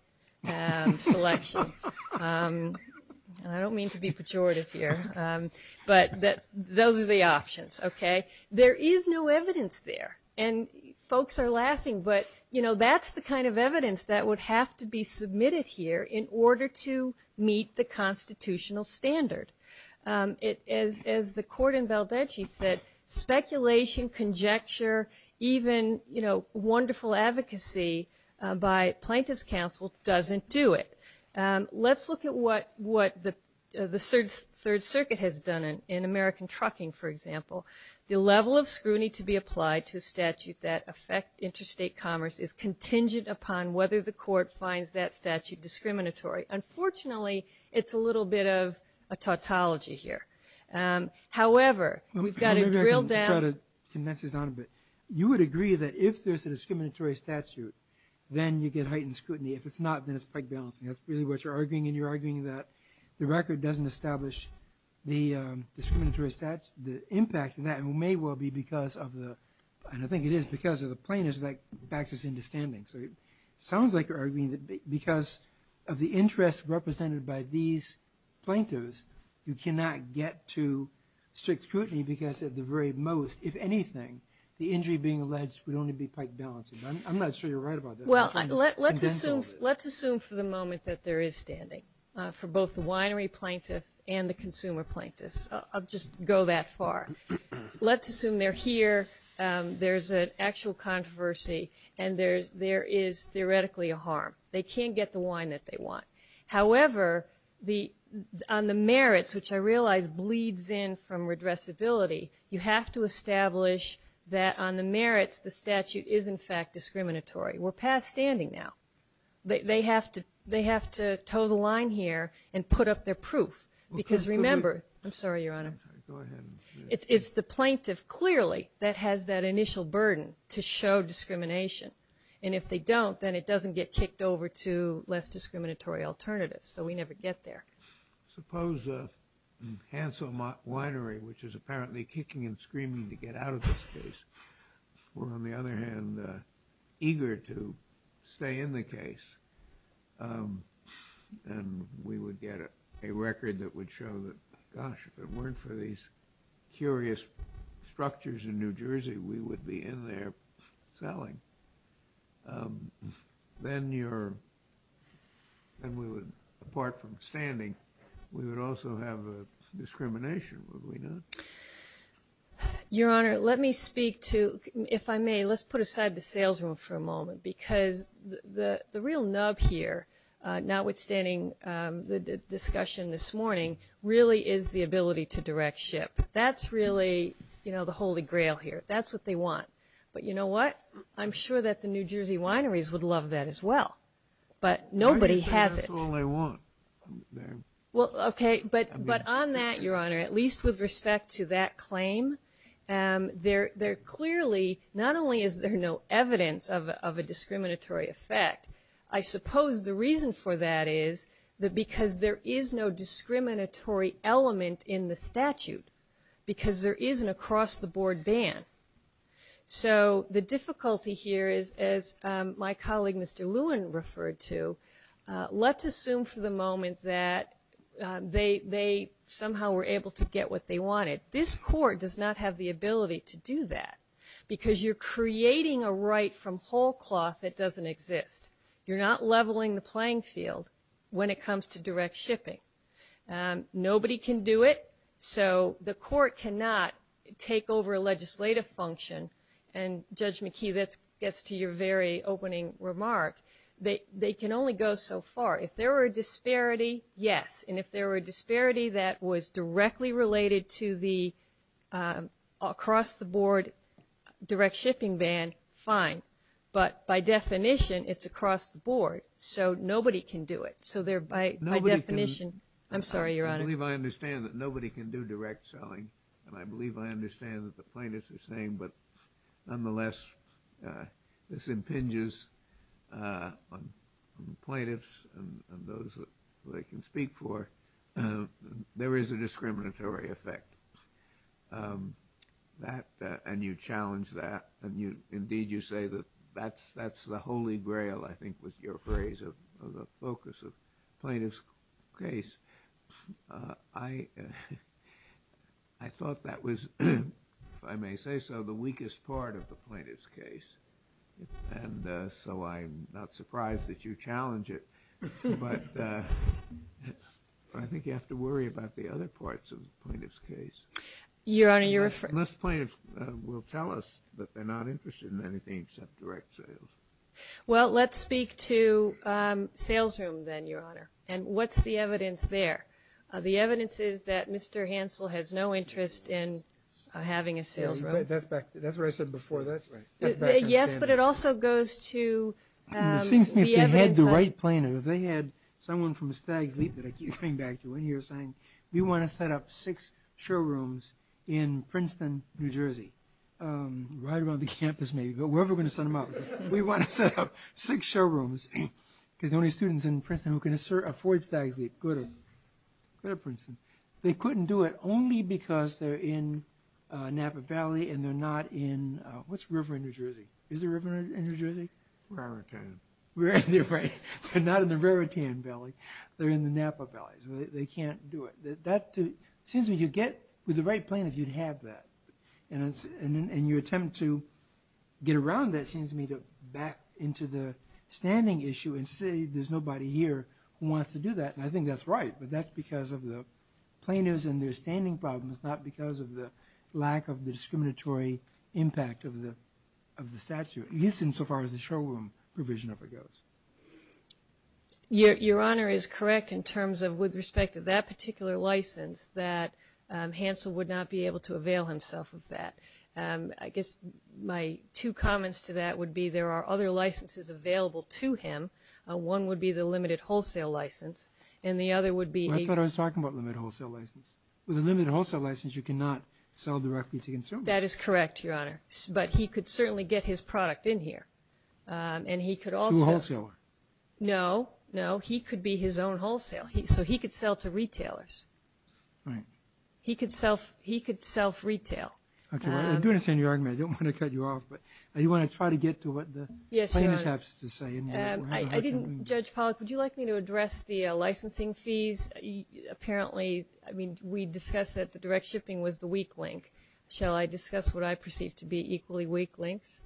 selection. I don't mean to be pejorative here, but those are the options, okay? There is no evidence there. And folks are laughing, but, you know, that's the kind of evidence that would have to be submitted here in order to meet the constitutional standard. As the court in Valdezzi said, speculation, conjecture, even, you know, wonderful advocacy by plaintiff's counsel doesn't do it. Let's look at what the Third Circuit has done in American Trucking, for example. The level of scrutiny to be applied to a statute that affects interstate commerce is contingent upon whether the court finds that statute discriminatory. Unfortunately, it's a little bit of a tautology here. However, we've got it drilled down. You would agree that if there's a discriminatory statute, then you get heightened scrutiny. If it's not, then it's pike balancing. That's really what you're arguing. And you're arguing that the record doesn't establish the discriminatory statute. The impact of that may well be because of the, and I think it is because of the plaintiffs, that backs us into standing. So it sounds like you're arguing that because of the interest represented by these plaintiffs, you cannot get to strict scrutiny because at the very most, if anything, the injury being alleged would only be pike balancing. I'm not sure you're right about that. Well, let's assume for the moment that there is standing for both the winery plaintiffs and the consumer plaintiffs. I'll just go that far. Let's assume they're here, there's an actual controversy, and there is theoretically a harm. They can't get the wine that they want. However, on the merits, which I realize bleeds in from redressability, you have to establish that on the merits the statute is in fact discriminatory. We're past standing now. They have to toe the line here and put up their proof because remember, I'm sorry, Your Honor. It's the plaintiff clearly that has that initial burden to show discrimination. And if they don't, then it doesn't get kicked over to less discriminatory alternatives. So we never get there. Suppose you cancel winery, which is apparently kicking and screaming to get out of this case. On the other hand, eager to stay in the case, and we would get a record that would show that, gosh, if it weren't for these curious structures in New Jersey, we would be in there selling. Then we would, apart from standing, we would also have a discrimination, would we not? Your Honor, let me speak to, if I may, let's put aside the sales room for a moment because the real nub here, notwithstanding the discussion this morning, really is the ability to direct ship. That's really the holy grail here. That's what they want. But you know what? I'm sure that the New Jersey wineries would love that as well. But nobody has it. That's all I want. Okay. But on that, Your Honor, at least with respect to that claim, there clearly not only is there no evidence of a discriminatory effect, I suppose the reason for that is because there is no discriminatory element in the statute because there is an across-the-board ban. So the difficulty here is, as my colleague, Mr. Lewin, referred to, let's assume for the moment that they somehow were able to get what they wanted. This court does not have the ability to do that because you're creating a right from whole cloth that doesn't exist. You're not leveling the playing field when it comes to direct shipping. Nobody can do it. So the court cannot take over a legislative function, and Judge McKee, this gets to your very opening remark, they can only go so far. If there were a disparity, yes. And if there were a disparity that was directly related to the across-the-board direct shipping ban, fine. But by definition, it's across-the-board. So nobody can do it. I'm sorry, Your Honor. I believe I understand that nobody can do direct selling, and I believe I understand that the plaintiffs are saying, but nonetheless this impinges on the plaintiffs and those that they can speak for. There is a discriminatory effect, and you challenge that, and indeed you say that that's the holy grail, I think, was your phrase of the focus of the plaintiff's case. I thought that was, if I may say so, the weakest part of the plaintiff's case, and so I'm not surprised that you challenge it. But I think you have to worry about the other parts of the plaintiff's case. Your Honor, you're referring to the plaintiff's case. Most plaintiffs will tell us that they're not interested in anything except direct sales. Well, let's speak to sales rooms then, Your Honor, and what's the evidence there? The evidence is that Mr. Hansel has no interest in having a sales room. That's what I said before, that's right. Yes, but it also goes to the evidence. It seems to me that you've had the right plaintiff. They had someone from Stag Leap that I keep coming back to in here saying, we want to set up six showrooms in Princeton, New Jersey, right around the campus maybe. But we're never going to set them up. We want to set up six showrooms because the only students in Princeton who can afford Stag Leap go to Princeton. They couldn't do it only because they're in Napa Valley and they're not in, what's the river in New Jersey? Is there a river in New Jersey? Raritan. They're not in the Raritan Valley. They're in the Napa Valley, so they can't do it. It seems that you get with the right plaintiff, you'd have that, and your attempt to get around that seems to me to back into the standing issue and say there's nobody here who wants to do that, and I think that's right, but that's because of the plaintiffs and their standing problems, not because of the lack of the discriminatory impact of the statute, at least insofar as the showroom provision of it goes. Your Honor is correct in terms of with respect to that particular license that Hansel would not be able to avail himself of that. I guess my two comments to that would be there are other licenses available to him. One would be the limited wholesale license, and the other would be... I thought I was talking about limited wholesale license. With a limited wholesale license you cannot sell directly to consumers. That is correct, Your Honor, but he could certainly get his product in here, and he could also... To a wholesaler. No, no, he could be his own wholesale. So he could sell to retailers. He could self-retail. Okay, I understand your argument. I don't want to cut you off, but I do want to try to get to what the plaintiffs have to say. Judge Pollack, would you like me to address the licensing fees? Apparently we discussed that the direct shipping was the weak link. Shall I discuss what I perceive to be equally weak links?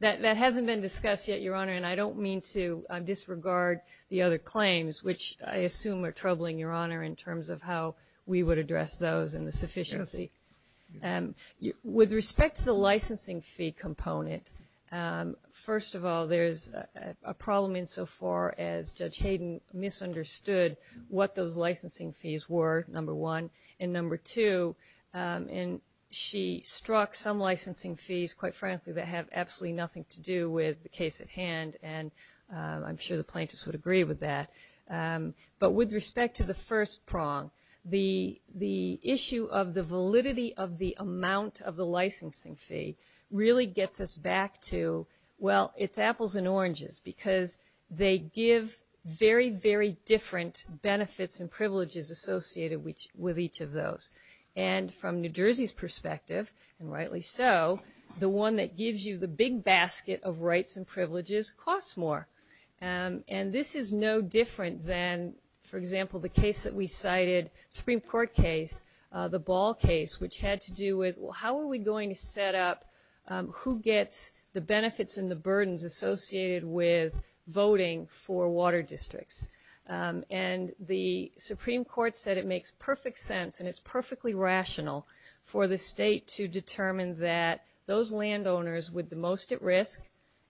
That hasn't been discussed yet, Your Honor, and I don't mean to disregard the other claims, which I assume are troubling, Your Honor, in terms of how we would address those and the sufficiency. With respect to the licensing fee component, first of all, there's a problem insofar as Judge Hayden misunderstood what those licensing fees were, number one. And number two, she struck some licensing fees, quite frankly, that have absolutely nothing to do with the case at hand, and I'm sure the plaintiffs would agree with that. But with respect to the first prong, the issue of the validity of the amount of the licensing fee really gets us back to, well, it's apples and oranges, because they give very, very different benefits and privileges associated with each of those. And from New Jersey's perspective, and rightly so, the one that gives you the big basket of rights and privileges costs more. And this is no different than, for example, the case that we cited, Supreme Court case, the Ball case, which had to do with how are we going to set up who gets the benefits and the burdens associated with voting for water districts. And the Supreme Court said it makes perfect sense, and it's perfectly rational, for the state to determine that those landowners with the most at risk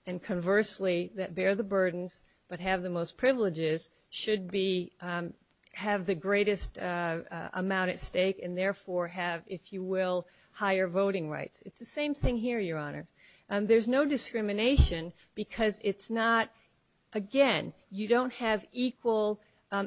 and, conversely, that bear the burdens but have the most privileges should have the greatest amount at stake and therefore have, if you will, higher voting rights. It's the same thing here, Your Honor. There's no discrimination because it's not, again, you don't have equal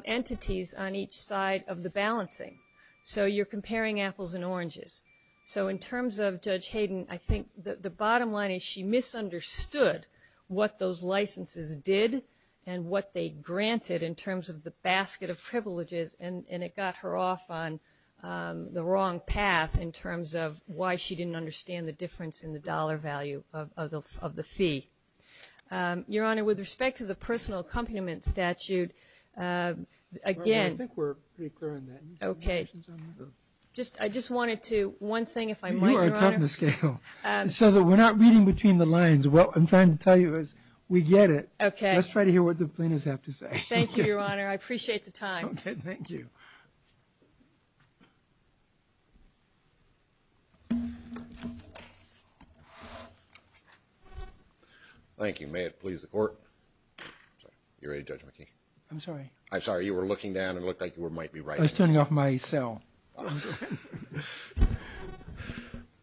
entities on each side of the balancing. So you're comparing apples and oranges. So in terms of Judge Hayden, I think the bottom line is she misunderstood what those licenses did and what they granted in terms of the basket of privileges, and it got her off on the wrong path in terms of why she didn't understand the difference in the dollar value of the fee. Your Honor, with respect to the personal accompaniment statute, again. I think we're pretty clear on that. Okay. I just wanted to, one thing, if I might, Your Honor. So we're not reading between the lines. What I'm trying to tell you is we get it. Okay. Let's try to hear what the plaintiffs have to say. Thank you, Your Honor. I appreciate the time. Okay. Thank you. Thank you. May it please the Court. You're ready, Judge McKee. I'm sorry. I'm sorry. It looked like you might be writing. I was turning off my cell.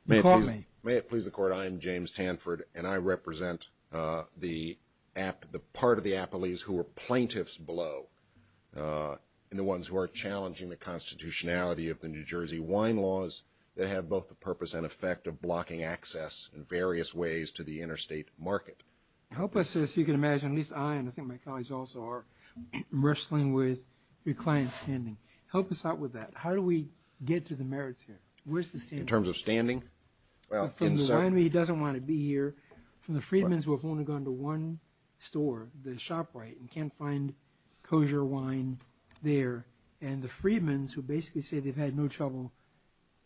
May it please the Court. I'm James Hanford, and I represent the part of the appellees who are plaintiffs below and the ones who are challenging the constitutionality of the New Jersey wine laws that have both the purpose and effect of blocking access in various ways to the interstate market. Help us, as you can imagine, at least I and I think my colleagues also are, in wrestling with your client's standing. Help us out with that. How do we get to the merits here? Where's the standing? In terms of standing? He doesn't want to be here. The Freedmen's will only go into one store, the ShopRite, and can't find kosher wine there. And the Freedmen's will basically say they've had no trouble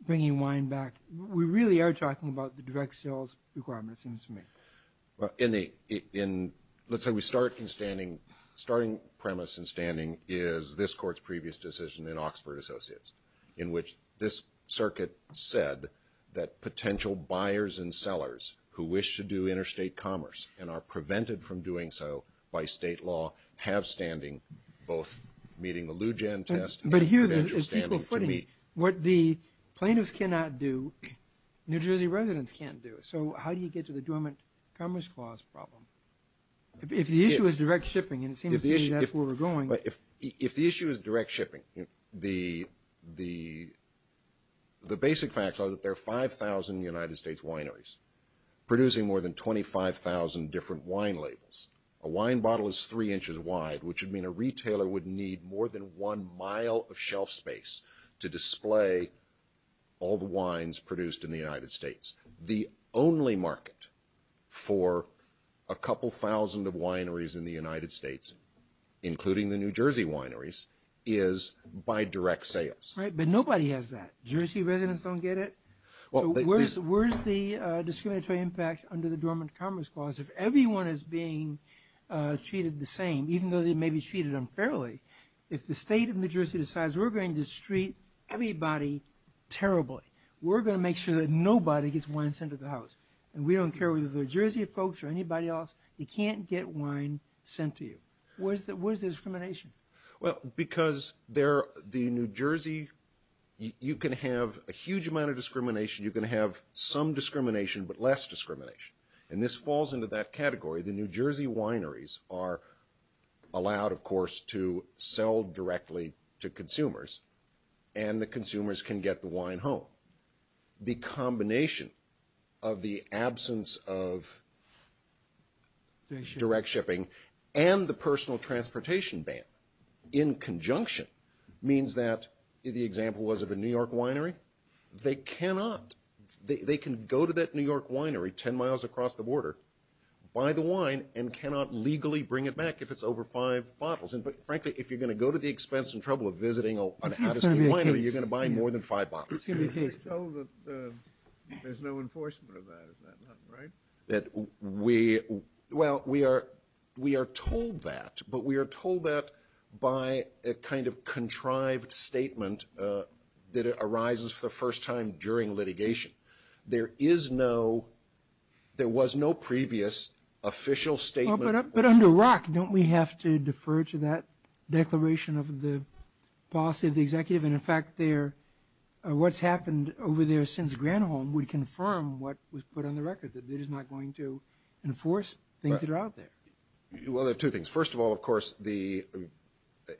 bringing wine back. We really are talking about the direct sales requirements, it seems to me. Let's say we start in standing. The starting premise in standing is this Court's previous decision in Oxford Associates in which this circuit said that potential buyers and sellers who wish to do interstate commerce and are prevented from doing so by state law have standing both meeting the Lou Gen test and interstate standing. But here, as simple footing, what the plaintiffs cannot do, New Jersey residents can't do. So how do you get to the Dormant Commerce Clause problem? If the issue is direct shipping, and it seems to me that's where we're going. If the issue is direct shipping, the basic facts are that there are 5,000 United States wineries producing more than 25,000 different wine labels. A wine bottle is three inches wide, which would mean a retailer would need more than one mile of shelf space to display all the wines produced in the United States. The only market for a couple thousand of wineries in the United States, including the New Jersey wineries, is by direct sales. Right, but nobody has that. Jersey residents don't get it? Where's the discriminatory impact under the Dormant Commerce Clause if everyone is being treated the same, even though they may be treated unfairly? If the state of New Jersey decides we're going to treat everybody terribly, we're going to make sure that nobody gets wine sent to the house, and we don't care whether they're Jersey folks or anybody else, you can't get wine sent to you. Where's the discrimination? Well, because the New Jersey, you can have a huge amount of discrimination. You can have some discrimination but less discrimination, and this falls into that category. The New Jersey wineries are allowed, of course, to sell directly to consumers, and the consumers can get the wine home. The combination of the absence of direct shipping and the personal transportation ban in conjunction means that, the example was of a New York winery, they cannot. They can go to that New York winery 10 miles across the border, buy the wine, and cannot legally bring it back if it's over five bottles. Frankly, if you're going to go to the expense and trouble of visiting a winery, you're going to buy more than five bottles. There's no enforcement of that, right? Well, we are told that, but we are told that by a kind of contrived statement that arises for the first time during litigation. There was no previous official statement. But under ROC, don't we have to defer to that declaration of the policy of the executive? And in fact, what's happened over there since Granholm would confirm what was put on the record, that it is not going to enforce things that are out there. Well, there are two things. First of all, of course,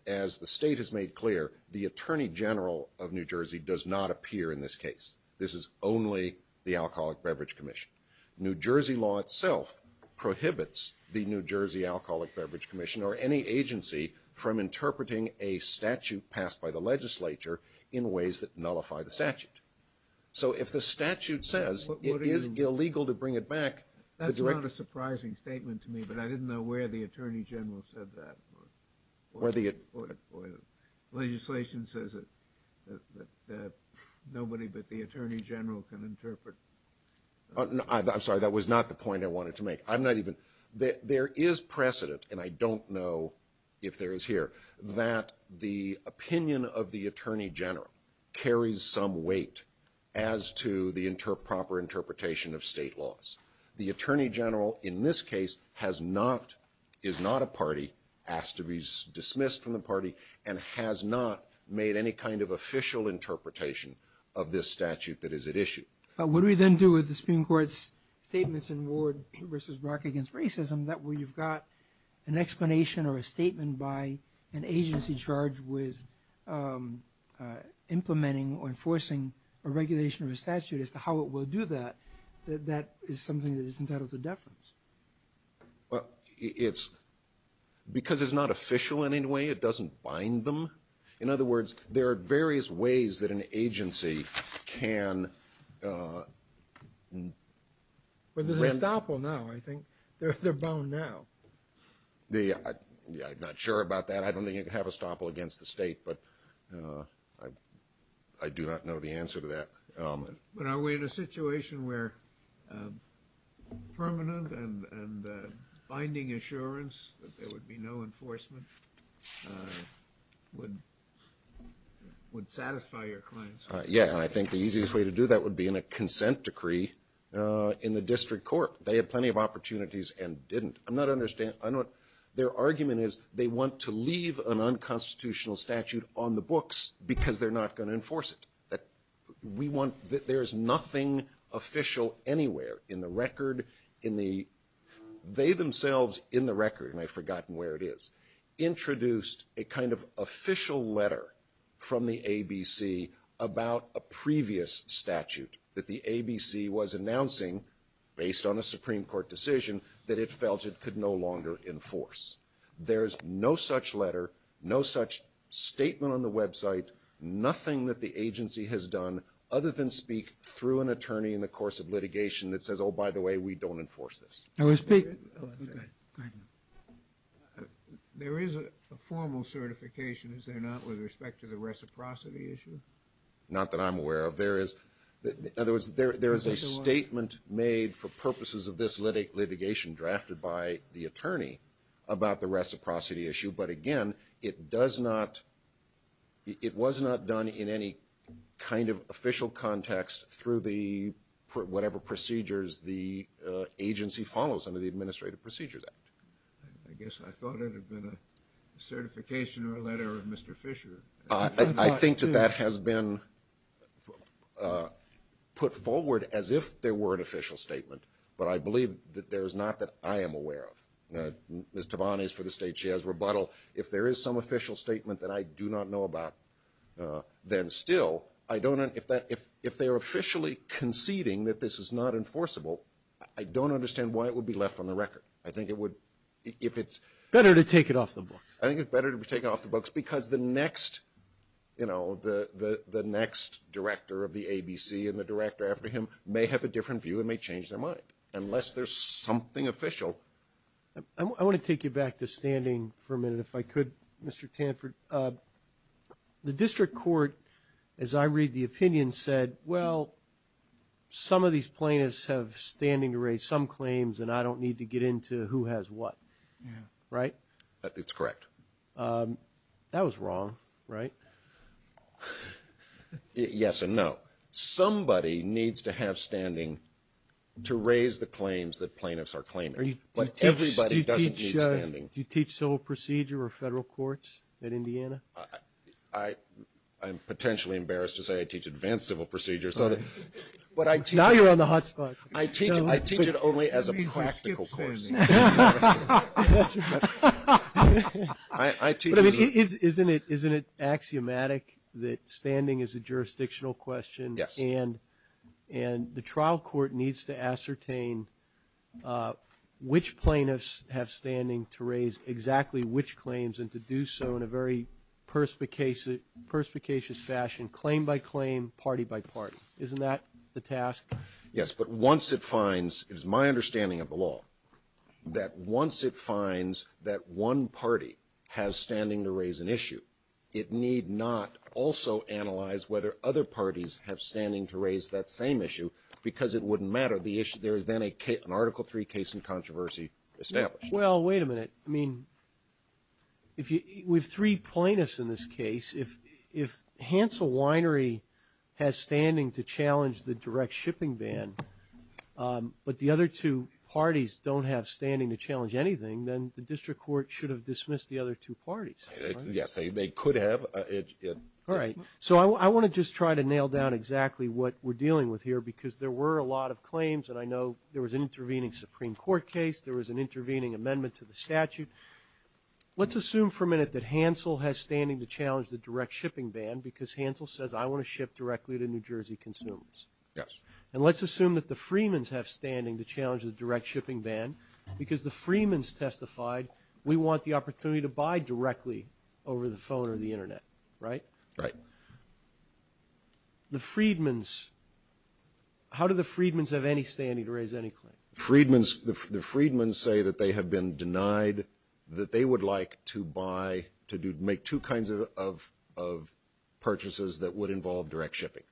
as the state has made clear, the Attorney General of New Jersey does not appear in this case. This is only the Alcoholic Beverage Commission. New Jersey law itself prohibits the New Jersey Alcoholic Beverage Commission or any agency from interpreting a statute passed by the legislature in ways that nullify the statute. So if the statute says it is illegal to bring it back, that's not a surprising statement to me, but I didn't know where the Attorney General said that. Legislation says that nobody but the Attorney General can interpret. I'm sorry, that was not the point I wanted to make. I'm not even – there is precedent, and I don't know if there is here, that the opinion of the Attorney General carries some weight as to the proper interpretation of state laws. The Attorney General in this case has not – is not a party, has to be dismissed from the party, and has not made any kind of official interpretation of this statute that is at issue. What do we then do with the Supreme Court's statements in Ward v. Brock against racism that we've got an explanation or a statement by an agency charged with implementing or enforcing a regulation or a statute as to how it will do that? That is something that is entitled to deference. Because it's not official in any way, it doesn't bind them. In other words, there are various ways that an agency can – But they're estoppel now, I think. They're bound now. I'm not sure about that. I don't think they have estoppel against the state, but I do not know the answer to that. But are we in a situation where permanent and binding assurance that there would be no enforcement would satisfy your claims? Yeah, I think the easiest way to do that would be in a consent decree in the district court. They had plenty of opportunities and didn't. I'm not – their argument is they want to leave an unconstitutional statute on the books because they're not going to enforce it. There's nothing official anywhere in the record. They themselves, in the record – and I've forgotten where it is – introduced a kind of official letter from the ABC about a previous statute that the ABC was announcing based on a Supreme Court decision that it felt it could no longer enforce. There's no such letter, no such statement on the website, nothing that the agency has done other than speak through an attorney in the course of litigation that says, oh, by the way, we don't enforce this. There is a formal certification, is there not, with respect to the reciprocity issue? Not that I'm aware of. There is – in other words, there is a statement made for purposes of this litigation drafted by the attorney about the reciprocity issue. But again, it does not – it was not done in any kind of official context through the – whatever procedures the agency follows under the Administrative Procedures Act. I guess I thought it had been a certification or a letter of Mr. Fisher. I think that that has been put forward as if there were an official statement, but I believe that there's not that I am aware of. Ms. Tavon is for the State Chair's rebuttal. If there is some official statement that I do not know about, then still, I don't – if they're officially conceding that this is not enforceable, I don't understand why it would be left on the record. I think it would – if it's – Better to take it off the books. I think it's better to take it off the books because the next, you know, the next director of the ABC and the director after him may have a different view and may change their mind unless there's something official. I want to take you back to standing for a minute if I could, Mr. Tanford. The district court, as I read the opinion, said, well, some of these plaintiffs have standing to raise some claims and I don't need to get into who has what, right? That's correct. That was wrong, right? Yes and no. Somebody needs to have standing to raise the claims that plaintiffs are claiming, but everybody doesn't need standing. Do you teach civil procedure or federal courts at Indiana? I'm potentially embarrassed to say I teach advanced civil procedure. Now you're on the hot spot. I teach it only as a practical question. Isn't it axiomatic that standing is a jurisdictional question and the trial court needs to ascertain which plaintiffs have standing to raise exactly which claims and to do so in a very perspicacious fashion, claim by claim, party by party. Isn't that the task? Yes, but once it finds, it is my understanding of the law, that once it finds that one party has standing to raise an issue, it need not also analyze whether other parties have standing to raise that same issue because it wouldn't matter. There is then an Article III case in controversy established. Well, wait a minute. I mean, with three plaintiffs in this case, if Hansel Winery has standing to challenge the direct shipping ban, but the other two parties don't have standing to challenge anything, then the district court should have dismissed the other two parties. Yes, they could have. All right. So I want to just try to nail down exactly what we're dealing with here because there were a lot of claims, and I know there was an intervening Supreme Court case. There was an intervening amendment to the statute. Let's assume for a minute that Hansel has standing to challenge the direct shipping ban because Hansel says, I want to ship directly to New Jersey consumers. Yes. And let's assume that the Freedmen's have standing to challenge the direct shipping ban because the Freedmen's testified, we want the opportunity to buy directly over the phone or the Internet, right? Right. The Freedmen's, how do the Freedmen's have any standing to raise any claim? The Freedmen's say that they have been denied that they would like to buy, to make two kinds of purchases that would involve direct shipping.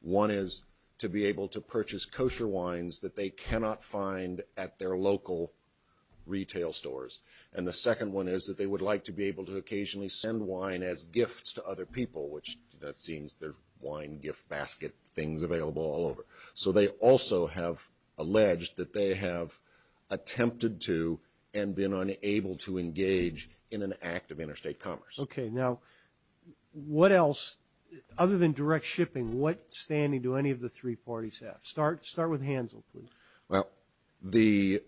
One is to be able to purchase kosher wines that they cannot find at their local retail stores, and the second one is that they would like to be able to occasionally send wine as gifts to other people, which that seems their wine gift basket, things available all over. So they also have alleged that they have attempted to and been unable to engage in an act of interstate commerce. Okay. Now, what else, other than direct shipping, what standing do any of the three parties have? Start with Hansel, please. Well, the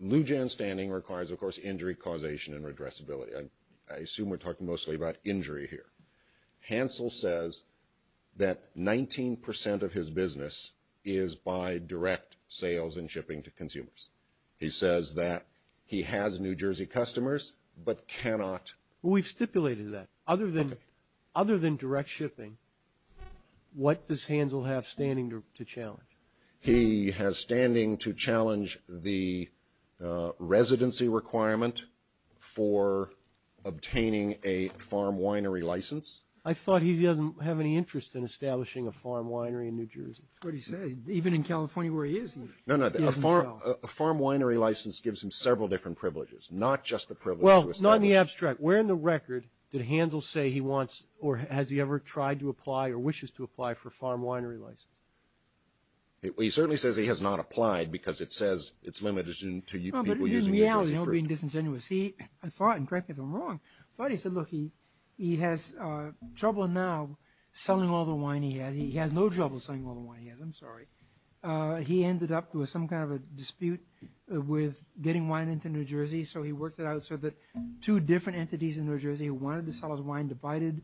NUGEN standing requires, of course, injury causation and regressibility. I assume we're talking mostly about injury here. Hansel says that 19% of his business is by direct sales and shipping to consumers. He says that he has New Jersey customers but cannot. Well, we've stipulated that. Other than direct shipping, what does Hansel have standing to challenge? He has standing to challenge the residency requirement for obtaining a farm winery license. I thought he didn't have any interest in establishing a farm winery in New Jersey. That's what he said. Even in California where he is, he doesn't know. No, no, a farm winery license gives him several different privileges, not just the privilege. Well, not in the abstract. Where in the record did Hansel say he wants or has he ever tried to apply or wishes to apply for a farm winery license? He certainly says he has not applied because it says it's limited to people using New Jersey. The reality of being disingenuous, I thought, and correct me if I'm wrong, but he said, look, he has trouble now selling all the wine he has. He has no trouble selling all the wine he has. I'm sorry. He ended up with some kind of a dispute with getting wine into New Jersey, so he worked it out so that two different entities in New Jersey wanted to sell his wine, divided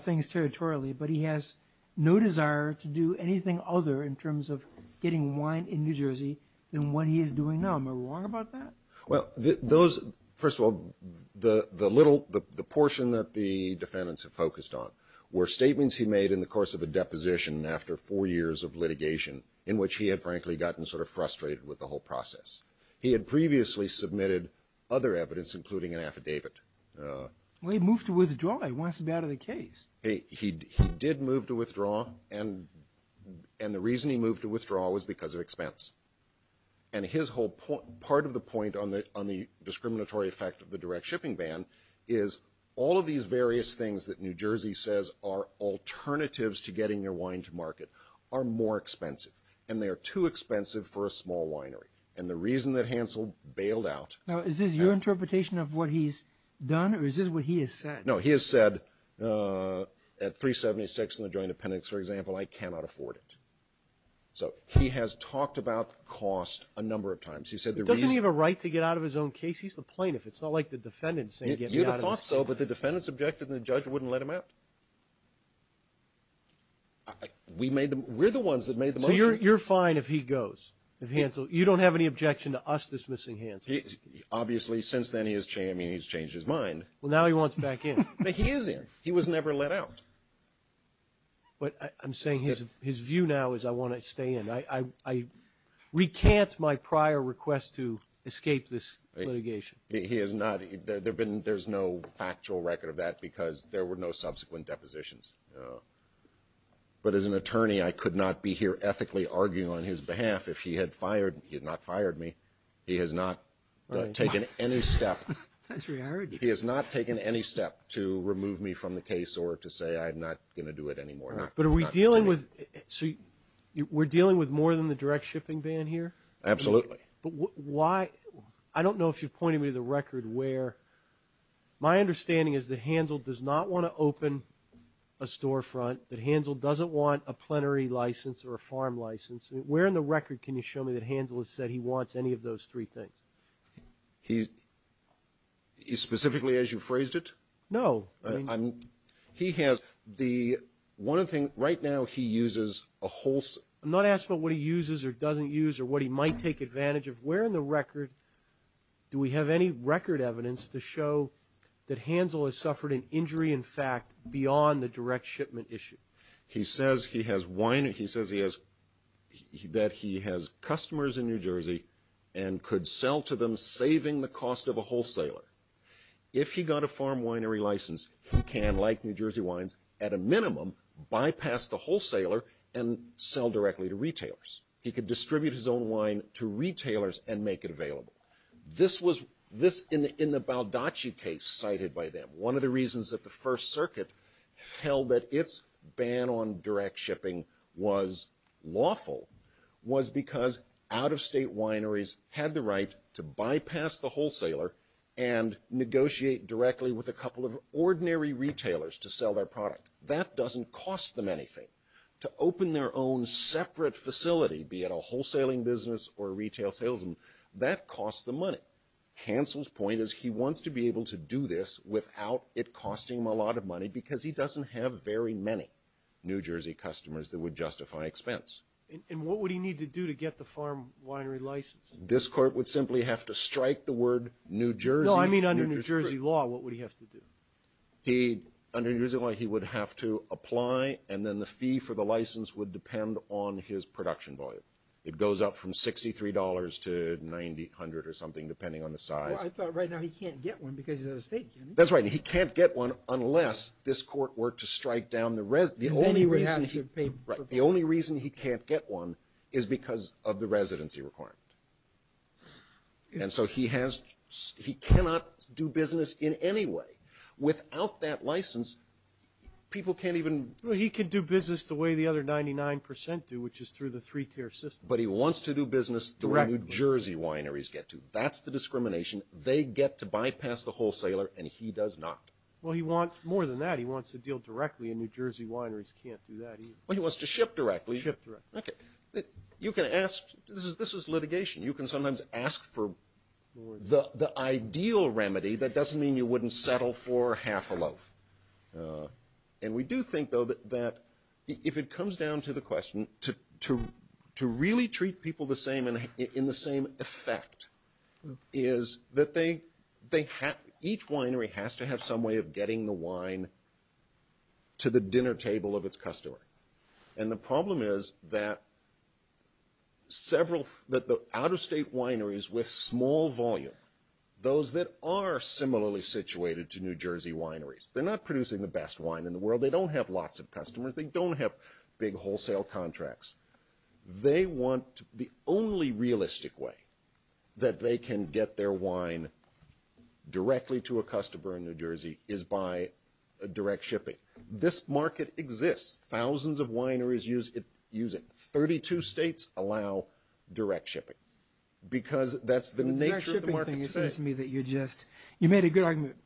things territorially, but he has no desire to do anything other in terms of getting wine in New Jersey than what he is doing now. Am I wrong about that? Well, those, first of all, the little, the portion that the defendants have focused on were statements he made in the course of a deposition after four years of litigation in which he had frankly gotten sort of frustrated with the whole process. He had previously submitted other evidence, including an affidavit. Well, he moved to withdraw. It wasn't that of the case. He did move to withdraw, and the reason he moved to withdraw was because of expense. And his whole point, part of the point on the discriminatory effect of the direct shipping ban is all of these various things that New Jersey says are alternatives to getting their wine to market are more expensive, and they are too expensive for a small winery. And the reason that Hansel bailed out… Now, is this your interpretation of what he's done, or is this what he has said? No, he has said at 376 in the Joint Appendix, for example, I cannot afford it. So he has talked about cost a number of times. He said the reason… Doesn't he have a right to get out of his own case? He's the plaintiff. It's not like the defendants say get me out of this. You would have thought so, but the defendants objected, and the judge wouldn't let him out. We made the, we're the ones that made the motion. So you're fine if he goes, if Hansel? You don't have any objection to us dismissing Hansel? Obviously, since then he's changed his mind. Well, now he wants to back in. But he is in. He was never let out. But I'm saying his view now is I want to stay in. I recant my prior request to escape this litigation. He has not. There's no factual record of that because there were no subsequent depositions. But as an attorney, I could not be here ethically arguing on his behalf. If he had fired, he had not fired me. He has not taken any step. He has not taken any step to remove me from the case or to say I'm not going to do it anymore. But are we dealing with, so we're dealing with more than the direct shipping ban here? Absolutely. I don't know if you're pointing me to the record where my understanding is that Hansel does not want to open a storefront, that Hansel doesn't want a plenary license or a farm license. Where in the record can you show me that Hansel has said he wants any of those three things? Specifically as you phrased it? No. He has the one thing, right now he uses a wholesale. I'm not asking what he uses or doesn't use or what he might take advantage of. Where in the record do we have any record evidence to show that Hansel has suffered an injury, in fact, beyond the direct shipment issue? He says he has customers in New Jersey and could sell to them saving the cost of a wholesaler. If he got a farm winery license, he can, like New Jersey wines, at a minimum, bypass the wholesaler and sell directly to retailers. He could distribute his own wine to retailers and make it available. This was, in the Baldacci case cited by them, one of the reasons that the First Circuit held that its ban on direct shipping was lawful was because out-of-state wineries had the right to bypass the wholesaler and negotiate directly with a couple of ordinary retailers to sell their product. That doesn't cost them anything. To open their own separate facility, be it a wholesaling business or a retail salesman, that costs them money. Hansel's point is he wants to be able to do this without it costing him a lot of money because he doesn't have very many New Jersey customers that would justify expense. And what would he need to do to get the farm winery license? This court would simply have to strike the word New Jersey. No, I mean under New Jersey law, what would he have to do? Under New Jersey law, he would have to apply, and then the fee for the license would depend on his production volume. It goes up from $63 to $9,800 or something, depending on the size. Well, I thought right now he can't get one because it's out-of-state, can he? That's right. He can't get one unless this court were to strike down the – Right. The only reason he can't get one is because of the residency requirement. And so he cannot do business in any way. Without that license, people can't even – Well, he can do business the way the other 99% do, which is through the three-tier system. But he wants to do business the way New Jersey wineries get to. That's the discrimination. They get to bypass the wholesaler, and he does not. Well, he wants more than that. He wants to deal directly, and New Jersey wineries can't do that either. Well, he wants to ship directly. Ship directly. Okay. You can ask – this is litigation. You can sometimes ask for the ideal remedy that doesn't mean you wouldn't settle for half a loaf. And we do think, though, that if it comes down to the question, to really treat people the same and in the same effect is that they have – each winery has to have some way of getting the wine to the dinner table of its customer. And the problem is that several – that the out-of-state wineries with small volume, those that are similarly situated to New Jersey wineries, they're not producing the best wine in the world. They don't have lots of customers. They don't have big wholesale contracts. They want – the only realistic way that they can get their wine directly to a customer in New Jersey is by direct shipping. This market exists. Thousands of wineries use it. Thirty-two states allow direct shipping because that's the nature of the market today. The direct shipping thing, it seems to me that you just – you made a good argument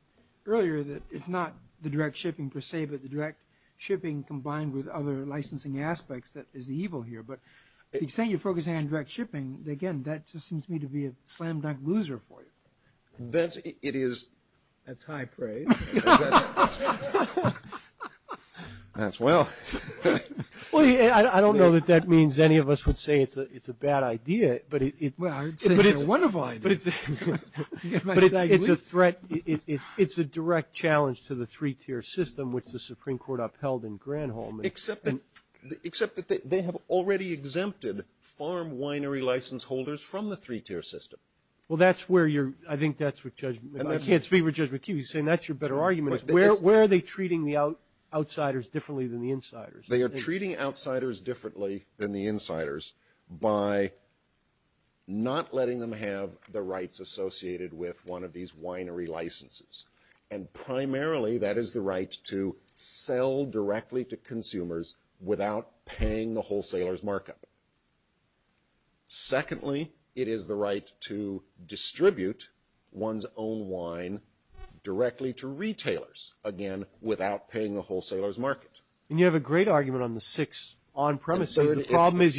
earlier that it's not the direct shipping per se, but the direct shipping combined with other licensing aspects that is evil here. But you're saying you're focusing on direct shipping. Again, that just seems to me to be a slam-dunk loser for you. It is a type, right? That's wild. I don't know that that means any of us would say it's a bad idea, but it's a threat. It's a direct challenge to the three-tier system, which the Supreme Court upheld in Granholm. Except that they have already exempted farm winery license holders from the three-tier system. Well, that's where you're – I think that's what Judge – I can't speak for Judge McKee. You're saying that's your better argument. Where are they treating the outsiders differently than the insiders? They are treating outsiders differently than the insiders by not letting them have the rights associated with one of these winery licenses. And primarily, that is the right to sell directly to consumers without paying the wholesaler's market. Secondly, it is the right to distribute one's own wine directly to retailers, again, without paying the wholesaler's market. And you have a great argument on the sixth on-premises.